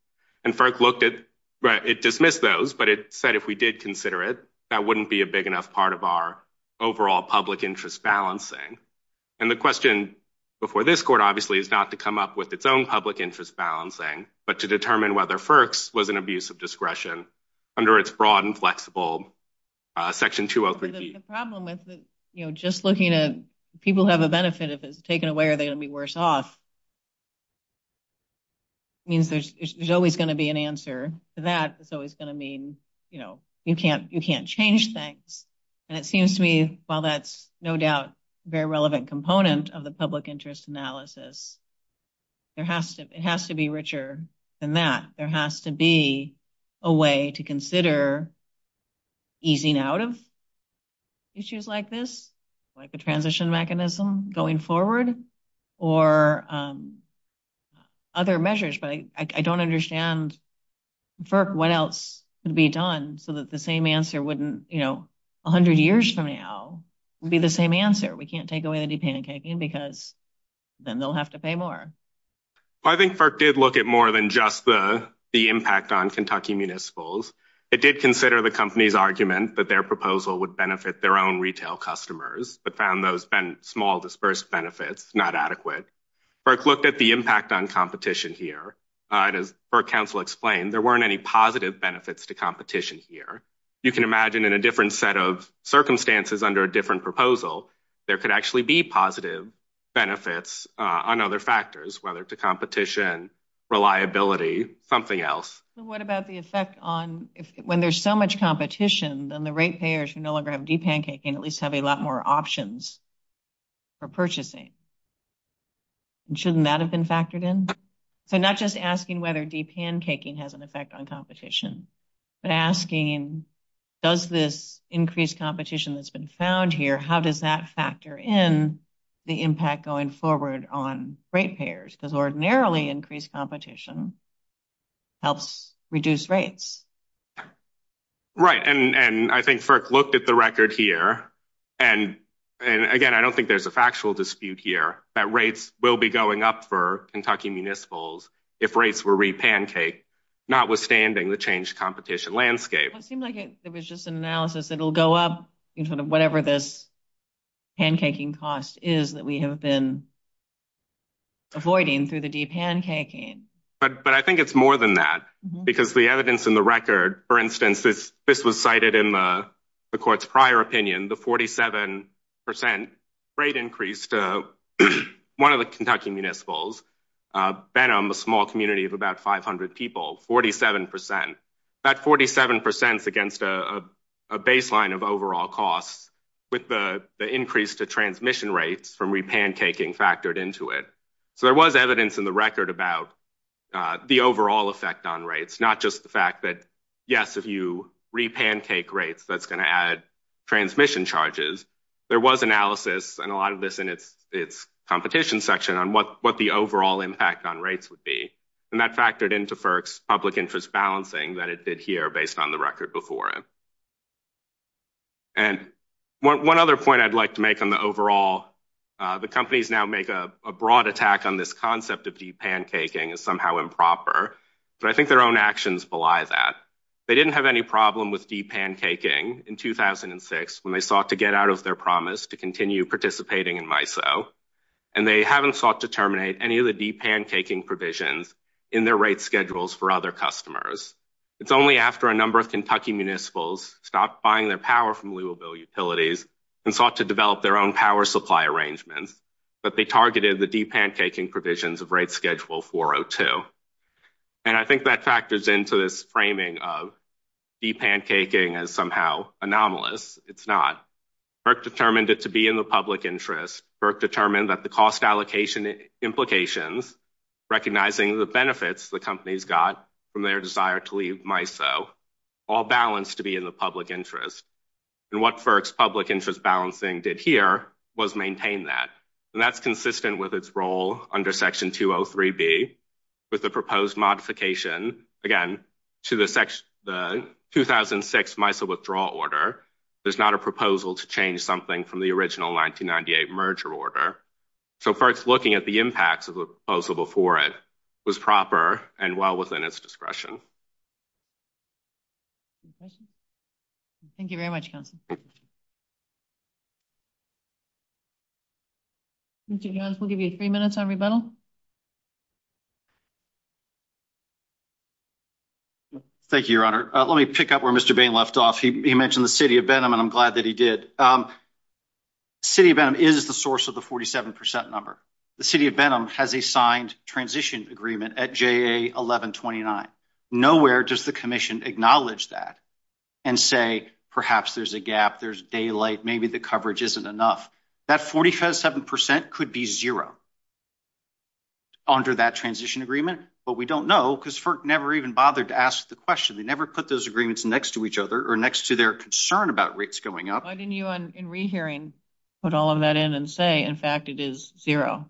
And FERC looked at, it dismissed those, but it said if we did consider it, that wouldn't be a big enough part of our overall public interest balancing. And the question before this court obviously is not to come up with its own public interest balancing, but to determine whether FERC's was an abuse of discretion under its broad inflexible Section 203B. The problem with just looking at people who have a benefit, if it's taken away, are they going to be worse off? It means there's always going to be an answer to that. It's always going to mean you can't change things. And it seems to me, while that's no doubt a very relevant component of the public interest analysis, it has to be richer than that. There has to be a way to consider easing out of issues like this, like a transition mechanism going forward or other measures. But I don't understand, FERC, what else could be done so that the same answer wouldn't, you know, a hundred years from now would be the same answer. We can't take away the de-pancaking because then they'll have to pay more. I think FERC did look at more than just the impact on Kentucky Municipals. It did consider the company's argument that their proposal would benefit their own retail customers, but found those small dispersed benefits not adequate. FERC looked at the impact on competition here. As FERC counsel explained, there weren't any positive benefits to competition here. You can imagine in a different set of circumstances under a different proposal, there could actually be positive benefits on other factors, whether to reliability, something else. What about the effect on when there's so much competition, then the rate payers who no longer have de-pancaking at least have a lot more options for purchasing. Shouldn't that have been factored in? So not just asking whether de-pancaking has an effect on competition, but asking does this increased competition that's been found here, how does that factor in the impact going forward on rate payers? Because ordinarily increased competition helps reduce rates. Right. I think FERC looked at the record here. Again, I don't think there's a factual dispute here that rates will be going up for Kentucky Municipals if rates were re-pancaked, notwithstanding the changed competition landscape. It seemed like it was just an analysis. It'll go up whatever this pancaking cost is that we have been avoiding through the de-pancaking. But I think it's more than that, because the evidence in the record, for instance, this was cited in the court's prior opinion, the 47 percent rate increase to one of the Kentucky Municipals, Benham, a small community of about 500 people, 47 percent. That 47 percent is against a baseline of overall costs with the increase to transmission rates from re-pancaking factored into it. So there was evidence in the record about the overall effect on rates, not just the fact that, yes, if you re-pancake rates, that's going to add transmission charges. There was analysis, and a lot of this in its competition section, on what the overall impact on rates would be. And that factored into FERC's public interest balancing that it did here based on the record before it. And one other point I'd like to make on the overall, the companies now make a broad attack on this concept of de-pancaking as somehow improper, but I think their own actions belie that. They didn't have any problem with de-pancaking in 2006 when they sought to get out of their promise to continue participating in MISO, and they haven't sought to terminate any of the de-pancaking provisions in their rate schedules for other customers. It's only after a number of Kentucky municipalities stopped buying their power from Louisville Utilities and sought to develop their own power supply arrangements that they targeted the de-pancaking provisions of rate schedule 402. And I think that factors into this framing of de-pancaking as somehow anomalous. It's not. FERC determined it to be in the public interest. FERC determined that the cost allocation implications, recognizing the benefits the companies got from their desire to leave MISO, all balanced to be in the public interest. And what FERC's public interest balancing did here was maintain that. And that's consistent with its role under Section 203b with the proposed modification, again, to the 2006 MISO withdrawal order. There's not a proposal to change something from the original 1998 merger order. So FERC's looking at the impacts of the proposal before it was proper and well within its discretion. Any questions? Thank you very much, Council. Mr. Jones, we'll give you three minutes on rebuttal. Thank you, Your Honor. Let me pick up where Mr. Bain left off. He mentioned the City of Benham, and I'm glad that he did. The City of Benham is the source of the 47 percent number. The City of Benham has a signed transition agreement at JA 1129. Nowhere does the Commission acknowledge that and say, perhaps there's a gap, there's daylight, maybe the coverage isn't enough. That 47 percent could be zero under that transition agreement. But we don't know, because FERC never even bothered to ask the question. They never put those agreements next to each other or next to their concern about rates going up. Why didn't you, in rehearing, put all of that in and say, in fact, it is zero?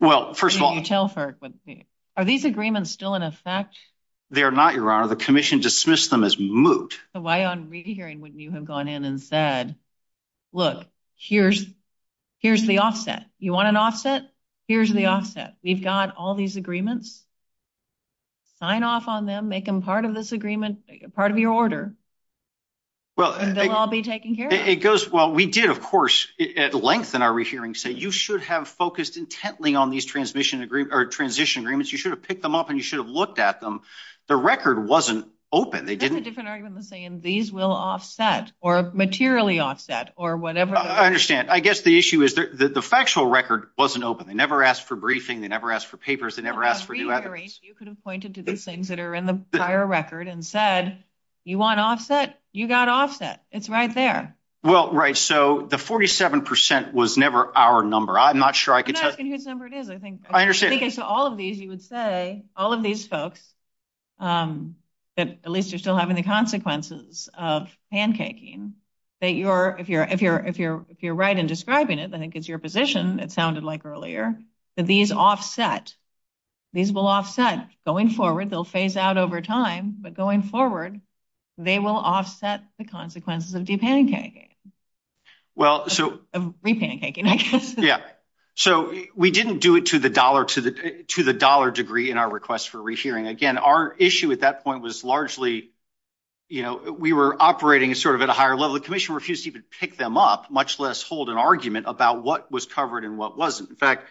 Well, first of all, tell FERC. Are these agreements still in effect? They're not, Your Honor. The Commission dismissed them as moot. So why, on rehearing, wouldn't you have gone in and said, look, here's the offset. You want an offset? Here's the offset. We've got all these agreements. Sign off on them. Make them part of this agreement, part of your order. They'll all be taken care of. Well, we did, of course, at length in our rehearing, say you should have focused intently on these transition agreements. You should have picked them up and you should have looked at them. The record wasn't open. That's a different argument than saying these will offset or materially offset or whatever. I understand. I guess the issue is that the factual record wasn't open. They never asked for briefing. They never asked for papers. They never asked for new evidence. You could have pointed to these things that are in the prior record and said, you want offset? You got offset. It's right there. Well, right. So the 47% was never our number. I'm not sure I could tell. I'm not asking whose number it is. I think it's all of these, you would say, all of these folks that at least are still having the consequences of pancaking, that if you're right in describing it, I think it's your position, it sounded like earlier, that these offset. These will offset going forward. They'll phase out over time. But going forward, they will offset the consequences of de-pancaking. Of re-pancaking, I guess. Yeah. So we didn't do it to the dollar degree in our request for rehearing. Again, our issue at that point was largely, you know, we were operating sort of at a higher level. The commission refused to even pick them up, much less hold an argument about what was covered and what wasn't. In fact,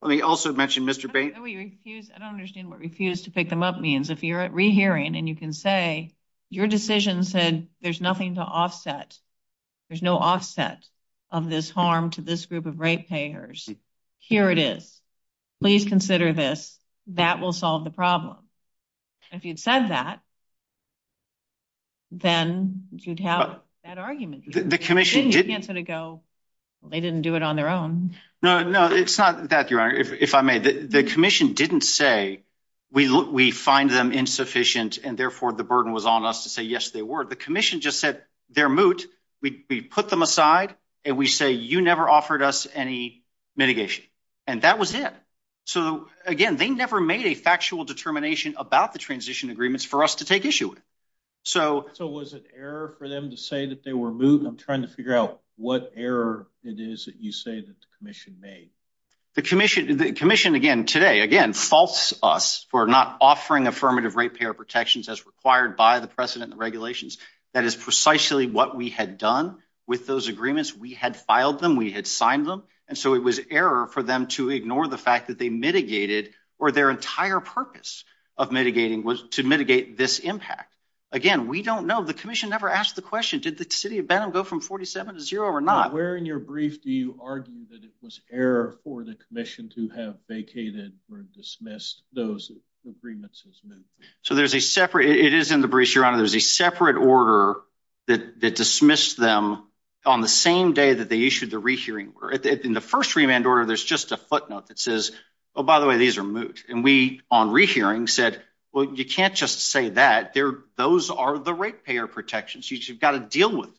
let me also mention Mr. Bain. I don't understand what refuse to pick them up means. If you're at rehearing and you can say, your decision said there's nothing to offset. There's no offset of this harm to this group of rate payers. Here it is. Please consider this. That will solve the problem. If you'd said that, then you'd have that argument. The commission didn't. You can't sort of go, they didn't do it on their own. No, no, it's not that, Your Honor, if I may. The commission didn't say, we find them insufficient and therefore the burden was on us to say, yes, they were. The commission just said they're moot. We put them aside and we say, you never offered us any mitigation. That was it. Again, they never made a factual determination about the transition agreements for us to take issue with. Was it error for them to say that they were moot? I'm trying to figure out what error it is that you say that the commission made. The commission, again, today, again, faults us for not offering affirmative rate payer protections as required by the precedent and regulations. That is precisely what we had done with those agreements. We had filed them. We had signed them. And so it was error for them to ignore the fact that they mitigated or their entire purpose of mitigating was to mitigate this impact. Again, we don't know. The commission never asked the question, did the city of Benham go from 47 to zero or not? Where in your brief, do you argue that it was error for the commission to have vacated or dismissed those agreements? So there's a separate, it is in the brief, Your Honor. There's a separate order that dismissed them on the same day that they issued the rehearing. In the first remand order, there's just a footnote that says, oh, by the way, these are moot. And we, on rehearing, said, well, you can't just say that. Those are the rate payer protections. You've got to deal with them.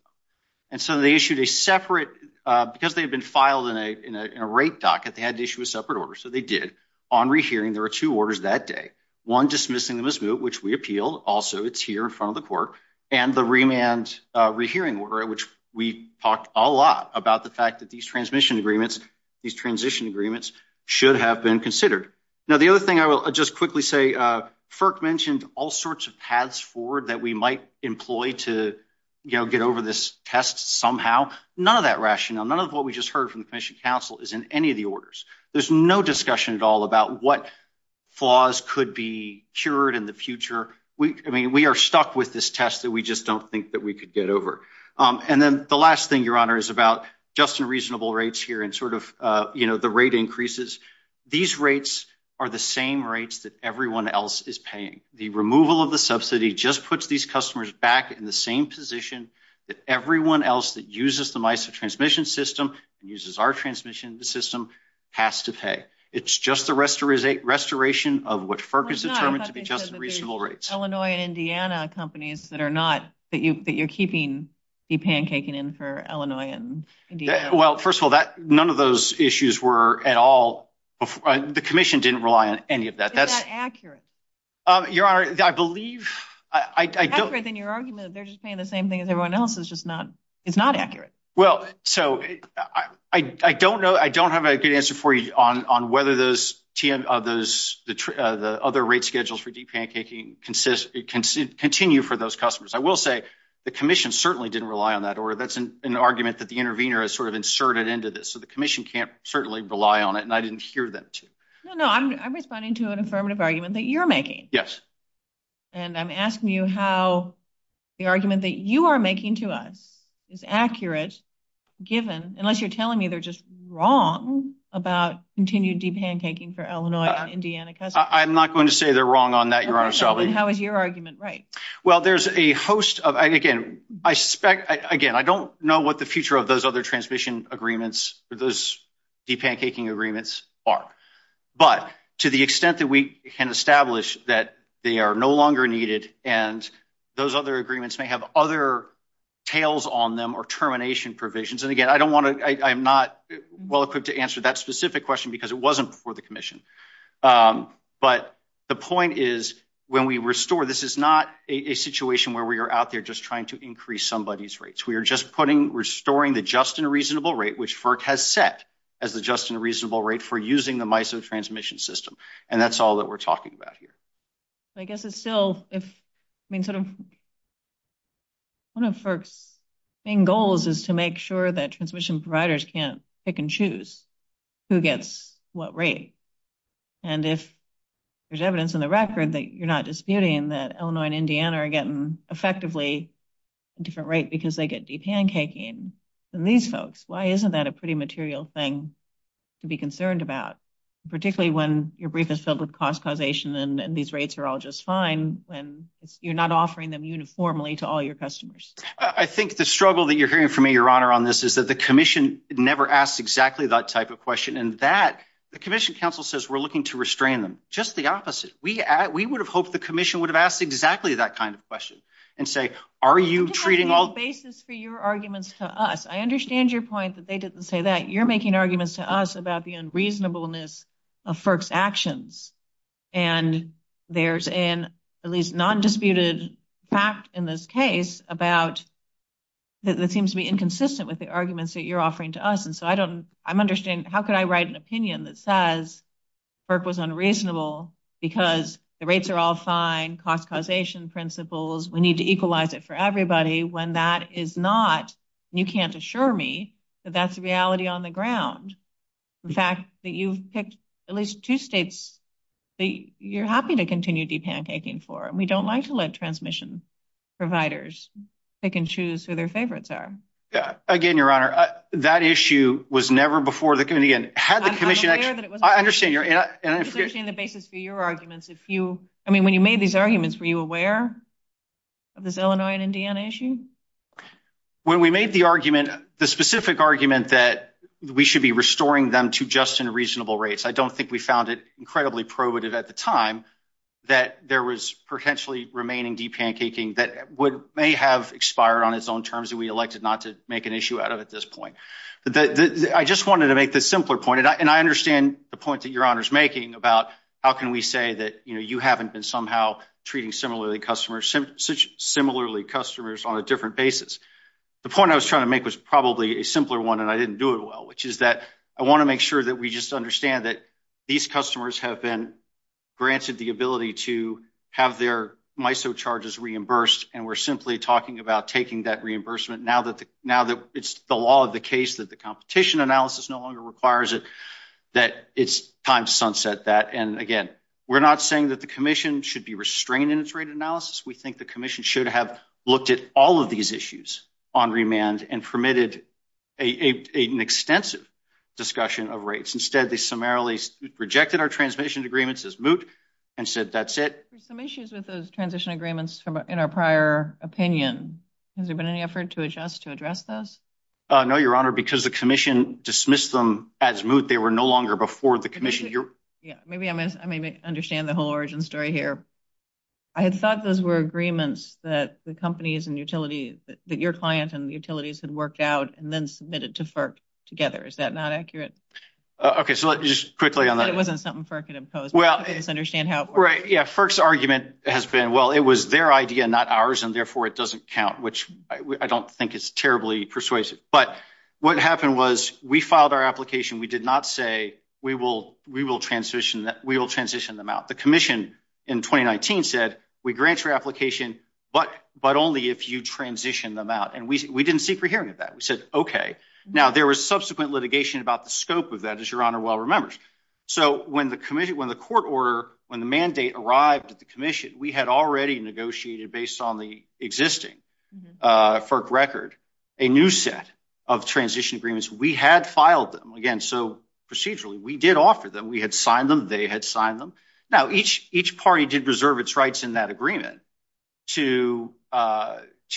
And so they issued a separate, because they had been filed in a rate docket, they had to issue a separate order. So they did. On rehearing, there were two orders that day. One dismissing them as we appealed. Also, it's here in front of the court. And the remand rehearing order, which we talked a lot about the fact that these transmission agreements, these transition agreements should have been considered. Now, the other thing I will just quickly say, FERC mentioned all sorts of paths forward that we might employ to, you know, get over this test somehow. None of that rationale, none of what we just heard from the commission counsel is in any of the orders. There's no discussion at all about what flaws could be cured in the future. I mean, we are stuck with this test that we just don't think that we could get over. And then the last thing, Your Honor, is about just and reasonable rates here and sort of, you know, the rate increases. These rates are the same rates that everyone else is paying. The removal of the subsidy just puts these customers back in the same position that everyone else that uses the MISA transmission system and uses our transmission system has to pay. It's just the restoration of what FERC is determined to be just reasonable rates. Illinois and Indiana companies that are not, that you're keeping the pancaking in for Illinois and Indiana. Well, first of all, none of those issues were at all, the commission didn't rely on any of that. Is that accurate? Your Honor, I believe, I don't... It's more accurate than your argument that they're just paying the same thing as everyone else. It's just not, it's not accurate. Well, so I don't know, I don't have a good answer for you on whether those TM, those, the other rate schedules for deep pancaking consist, continue for those customers. I will say the commission certainly didn't rely on that order. That's an argument that the intervener has sort of inserted into this. So the commission can't certainly rely on it and I didn't hear them to. No, no, I'm responding to an affirmative argument that you're making. Yes. And I'm asking you how the argument that you are making to us is accurate, given, unless you're telling me they're just wrong about continued deep pancaking for Illinois and Indiana customers. I'm not going to say they're wrong on that, Your Honor. So then how is your argument right? Well, there's a host of, again, I suspect, again, I don't know what the future of those other transmission agreements or those deep pancaking agreements are. But to the extent that we can establish that they are no longer needed and those other agreements may have other tails on them or termination provisions. And again, I don't want to, I'm not well equipped to answer that specific question because it wasn't for the commission. But the point is, when we restore, this is not a situation where we are out there just trying to increase somebody's rates. We are just putting, restoring the just and reasonable rate, which FERC has set as the reasonable rate for using the MISO transmission system. And that's all that we're talking about here. I guess it's still if, I mean, sort of one of FERC's main goals is to make sure that transmission providers can't pick and choose who gets what rate. And if there's evidence in the record that you're not disputing that Illinois and Indiana are getting effectively a different rate because they get deep pancaking than these folks, why isn't that a pretty material thing to be concerned about? Particularly when your brief is filled with cost causation and these rates are all just fine when you're not offering them uniformly to all your customers. I think the struggle that you're hearing from me, your honor, on this is that the commission never asked exactly that type of question. And that the commission council says we're looking to restrain them. Just the opposite. We would have hoped the commission would have asked exactly that kind of question and say, are you treating all... You just have no basis for your arguments to us. I the unreasonableness of FERC's actions. And there's an at least non-disputed fact in this case about that seems to be inconsistent with the arguments that you're offering to us. And so I don't, I'm understanding, how could I write an opinion that says FERC was unreasonable because the rates are all fine, cost causation principles. We need to equalize it for everybody when that is not, and you can't assure me that that's the reality on the ground. The fact that you've picked at least two states that you're happy to continue de-pancaking for. And we don't like to let transmission providers pick and choose who their favorites are. Yeah. Again, your honor, that issue was never before the committee. And again, had the commission... I'm aware that it was... I understand your... And I understand the basis for your arguments. If you, I mean, when you made these arguments, were you aware of this Illinois and Indiana issue? When we made the argument, the specific argument that we should be restoring them to just and reasonable rates, I don't think we found it incredibly probative at the time that there was potentially remaining de-pancaking that would may have expired on its own terms that we elected not to make an issue out of at this point. But I just wanted to make this simpler point, and I understand the point that your honor's about how can we say that you haven't been somehow treating similarly customers on a different basis. The point I was trying to make was probably a simpler one, and I didn't do it well, which is that I want to make sure that we just understand that these customers have been granted the ability to have their MISO charges reimbursed. And we're simply talking about taking that reimbursement now that it's the law of the case that the competition analysis no longer requires it, that it's time to sunset that. And again, we're not saying that the commission should be restrained in its rate analysis. We think the commission should have looked at all of these issues on remand and permitted an extensive discussion of rates. Instead, they summarily rejected our transmission agreements as moot and said, that's it. There's some issues with those transition agreements in our prior opinion. Has there been any effort to adjust to address this? No, your honor, because the commission dismissed them as moot. They were no longer before the commission. Yeah, maybe I may understand the whole origin story here. I had thought those were agreements that the companies and utilities, that your client and utilities had worked out and then submitted to FERC together. Is that not accurate? Okay, so let's just quickly on that. It wasn't something FERC could impose. I just understand how it works. Yeah, FERC's argument has been, well, it was their idea, not ours, and therefore it doesn't count, which I don't think is terribly persuasive. But what happened was we filed our application. We did not say, we will transition them out. The commission in 2019 said, we grant your application, but only if you transition them out. And we didn't seek a hearing of that. We said, okay. Now there was subsequent litigation about the scope of that, as your honor well remembers. So when the court order, when the mandate arrived at the commission, we had already negotiated based on the existing FERC record, a new set of transition agreements we had filed them. Again, so procedurally, we did offer them. We had signed them, they had signed them. Now each party did reserve its rights in that agreement to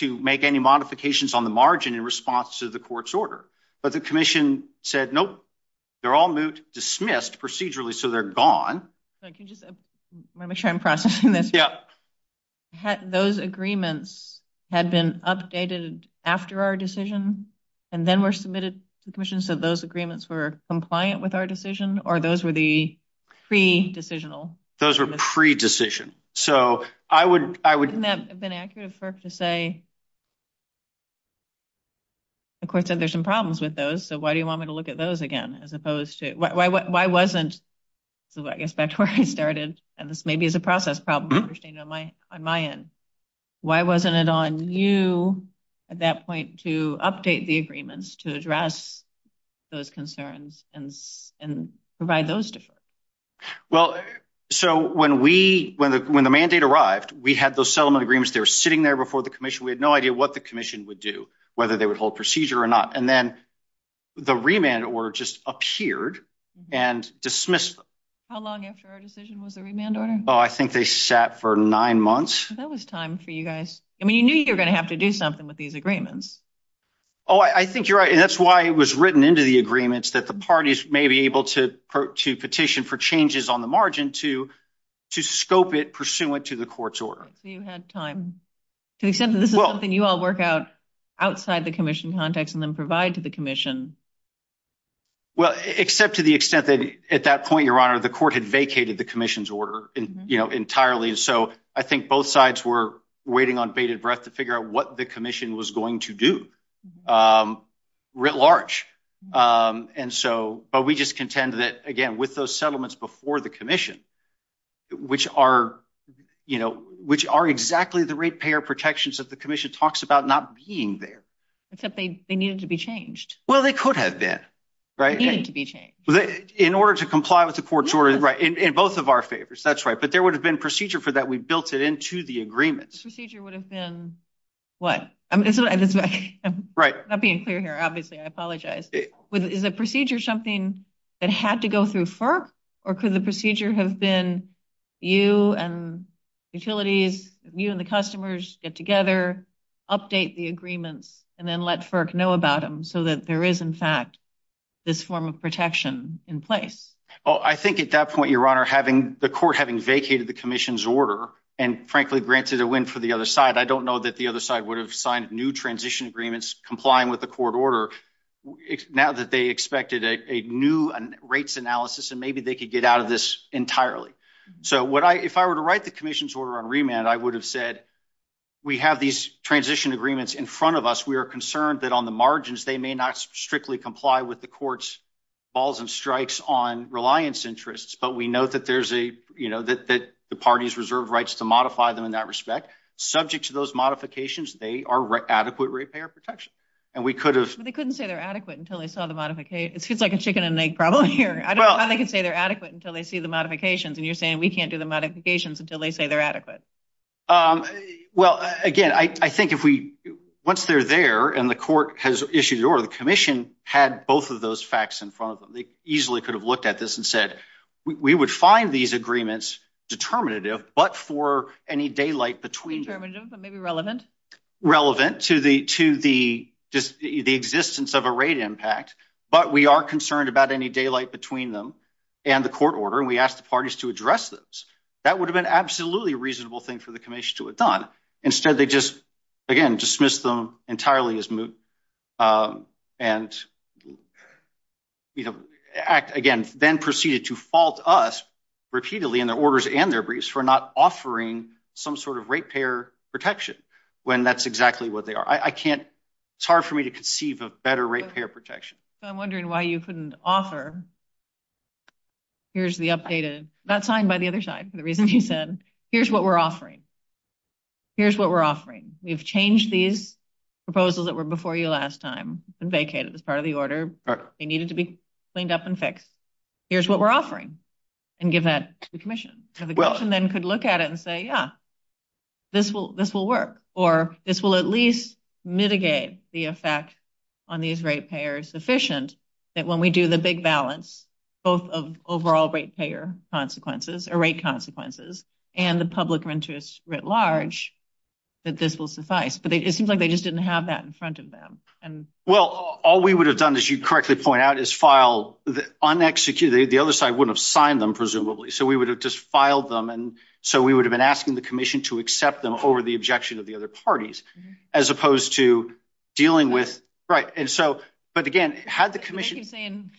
make any modifications on the margin in response to the court's order. But the commission said, nope, they're all moved, dismissed procedurally, so they're gone. I want to make sure I'm processing this. Yeah. Those agreements had been updated after our decision and then were submitted to the commission. So those agreements were compliant with our decision or those were the pre-decisional? Those were pre-decision. So I would... Wouldn't that have been accurate for FERC to say, the court said there's some problems with those. So why do you want me to look at those again, as opposed to, why wasn't, so I guess back to where I started and this may be as a process problem on my end, why wasn't it on you at that point to update the agreements to address those concerns and provide those deferred? Well, so when we, when the mandate arrived, we had those settlement agreements, they were sitting there before the commission. We had no idea what the commission would do, whether they would hold procedure or not. And then the remand order just appeared and dismissed them. How long after our decision was the remand order? Oh, I think they sat for nine months. That was time for you guys. I mean, you knew you were going to have to do something with these agreements. Oh, I think you're right. And that's why it was written into the agreements that the parties may be able to petition for changes on the margin to scope it pursuant to the court's order. So you had time. To the extent that this is something you all work out outside the commission context and then provide to the commission. Well, except to the extent that at that point, Your Honor, the court had vacated the commission's order entirely. And so I think both sides were waiting on bated breath to figure out what the commission was going to do writ large. And so, but we just contend that, again, with those settlements before the commission, which are exactly the ratepayer protections that the commission talks about not being there. Except they needed to be changed. Well, they could have been, right? They needed to be changed. In order to comply with the court's order, right? In both of our favors. That's right. But there would have been procedure for that. We built it into the agreements. Procedure would have been what? I'm not being clear here, obviously. I apologize. Is the procedure something that had to go through FERC or could the procedure have been you and utilities, you and the customers get together, update the agreements and then let FERC know about them so that there is, in fact, this form of protection in place? Oh, I think at that point, Your Honor, having the court, having vacated the commission's order and frankly granted a win for the other side, I don't know that the other side would have signed new transition agreements complying with the court order now that they expected a new rates analysis. And maybe they could get out of this entirely. So what I, if I were to write the commission's order on remand, I would have said, we have these transition agreements in front of us. We are concerned that on the margins, they may not strictly comply with the court's balls and strikes on reliance interests. But we know that there's a, you know, that the party's reserved rights to modify them in that respect. Subject to those modifications, they are adequate ratepayer protection. And we could have, they couldn't say they're adequate until they saw the modification. It's like a chicken and egg problem here. I don't know how they can say they're adequate until they see the modifications. And you're saying we can't do the modifications until they say they're adequate. Well, again, I think if we, once they're there and the court has issued the order, the commission had both of those facts in front of them. They easily could have looked at this and said, we would find these agreements determinative, but for any daylight between, maybe relevant, relevant to the, to the, just the existence of a rate impact. But we are concerned about any daylight between them and the court order. And we asked the parties to address this. That would have been absolutely reasonable thing for the commission to have done. Instead, they just, again, dismiss them entirely as moot. And, you know, act again, then proceeded to fault us repeatedly in their orders and their briefs for not offering some sort of ratepayer protection when that's exactly what they are. I can't, it's hard for me to conceive of better ratepayer protection. I'm wondering why you couldn't offer. Here's the updated, that's signed by the other side for the reason you said, here's what we're offering. Here's what we're offering. We've changed these proposals that were before you last time and vacated as part of the order. They needed to be cleaned up and fixed. Here's what we're offering and give that to the commission. And the commission then could look at it and say, yeah, this will, this will work, or this will at least mitigate the effect on these ratepayers sufficient that when we do the big balance, both of overall ratepayer consequences or rate consequences and the public interest writ large, that this will suffice. But it seems like they just didn't have that in front of them. Well, all we would have done, as you correctly point out, is file the unexecuted. The other side wouldn't have signed them, presumably. So we would have just filed them. And so we would have been asking the commission to accept them over the But again, had the commission saying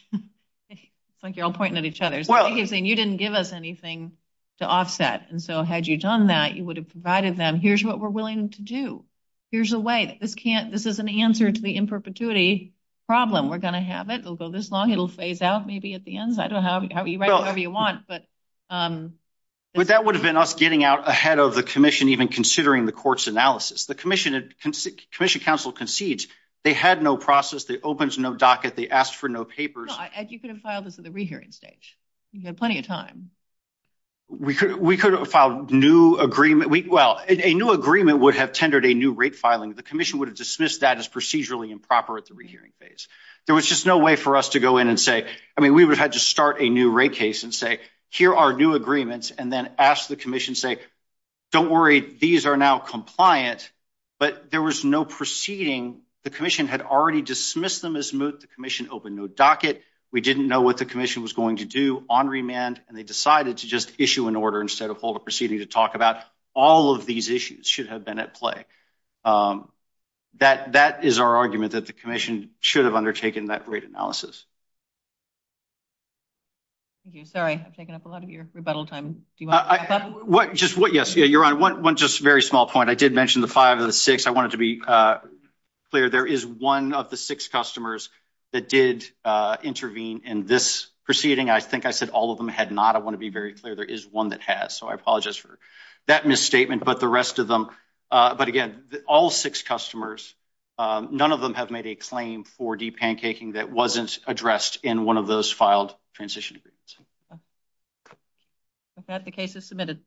it's like you're all pointing at each other saying you didn't give us anything to offset. And so had you done that, you would have provided them. Here's what we're willing to do. Here's a way that this can't this is an answer to the imperpetuity problem. We're going to have it will go this long. It'll phase out maybe at the ends. I don't know how you write whatever you want. But that would have been us getting out ahead of the commission even considering the court's analysis, the commission and commission counsel concedes they had no process that opens no docket. They asked for no papers. And you could have filed this at the rehearing stage. You had plenty of time. We could have filed new agreement. Well, a new agreement would have tendered a new rate filing. The commission would have dismissed that as procedurally improper at the rehearing phase. There was just no way for us to go in and say, I mean, we would have had to start a new rate case and say, here are new agreements and then ask the commission say, don't worry, these are now compliant. But there was no proceeding. The commission had already dismissed them as moot. The commission opened no docket. We didn't know what the commission was going to do on remand, and they decided to just issue an order instead of hold a proceeding to talk about all of these issues should have been at play. That that is our argument that the commission should have undertaken that rate analysis. Thank you. Sorry, I've taken up a lot of your rebuttal time. What just what? Yes, you're on one just very small point. I did mention the five of the six. I wanted to be clear. There is one of the six customers that did intervene in this proceeding. I think I said all of them had not. I want to be very clear. There is one that has. So I apologize for that misstatement. But the rest of them. But again, all six customers, none of them have made a claim for deep pancaking that wasn't addressed in one of those filed transition agreements. Okay, the case is submitted.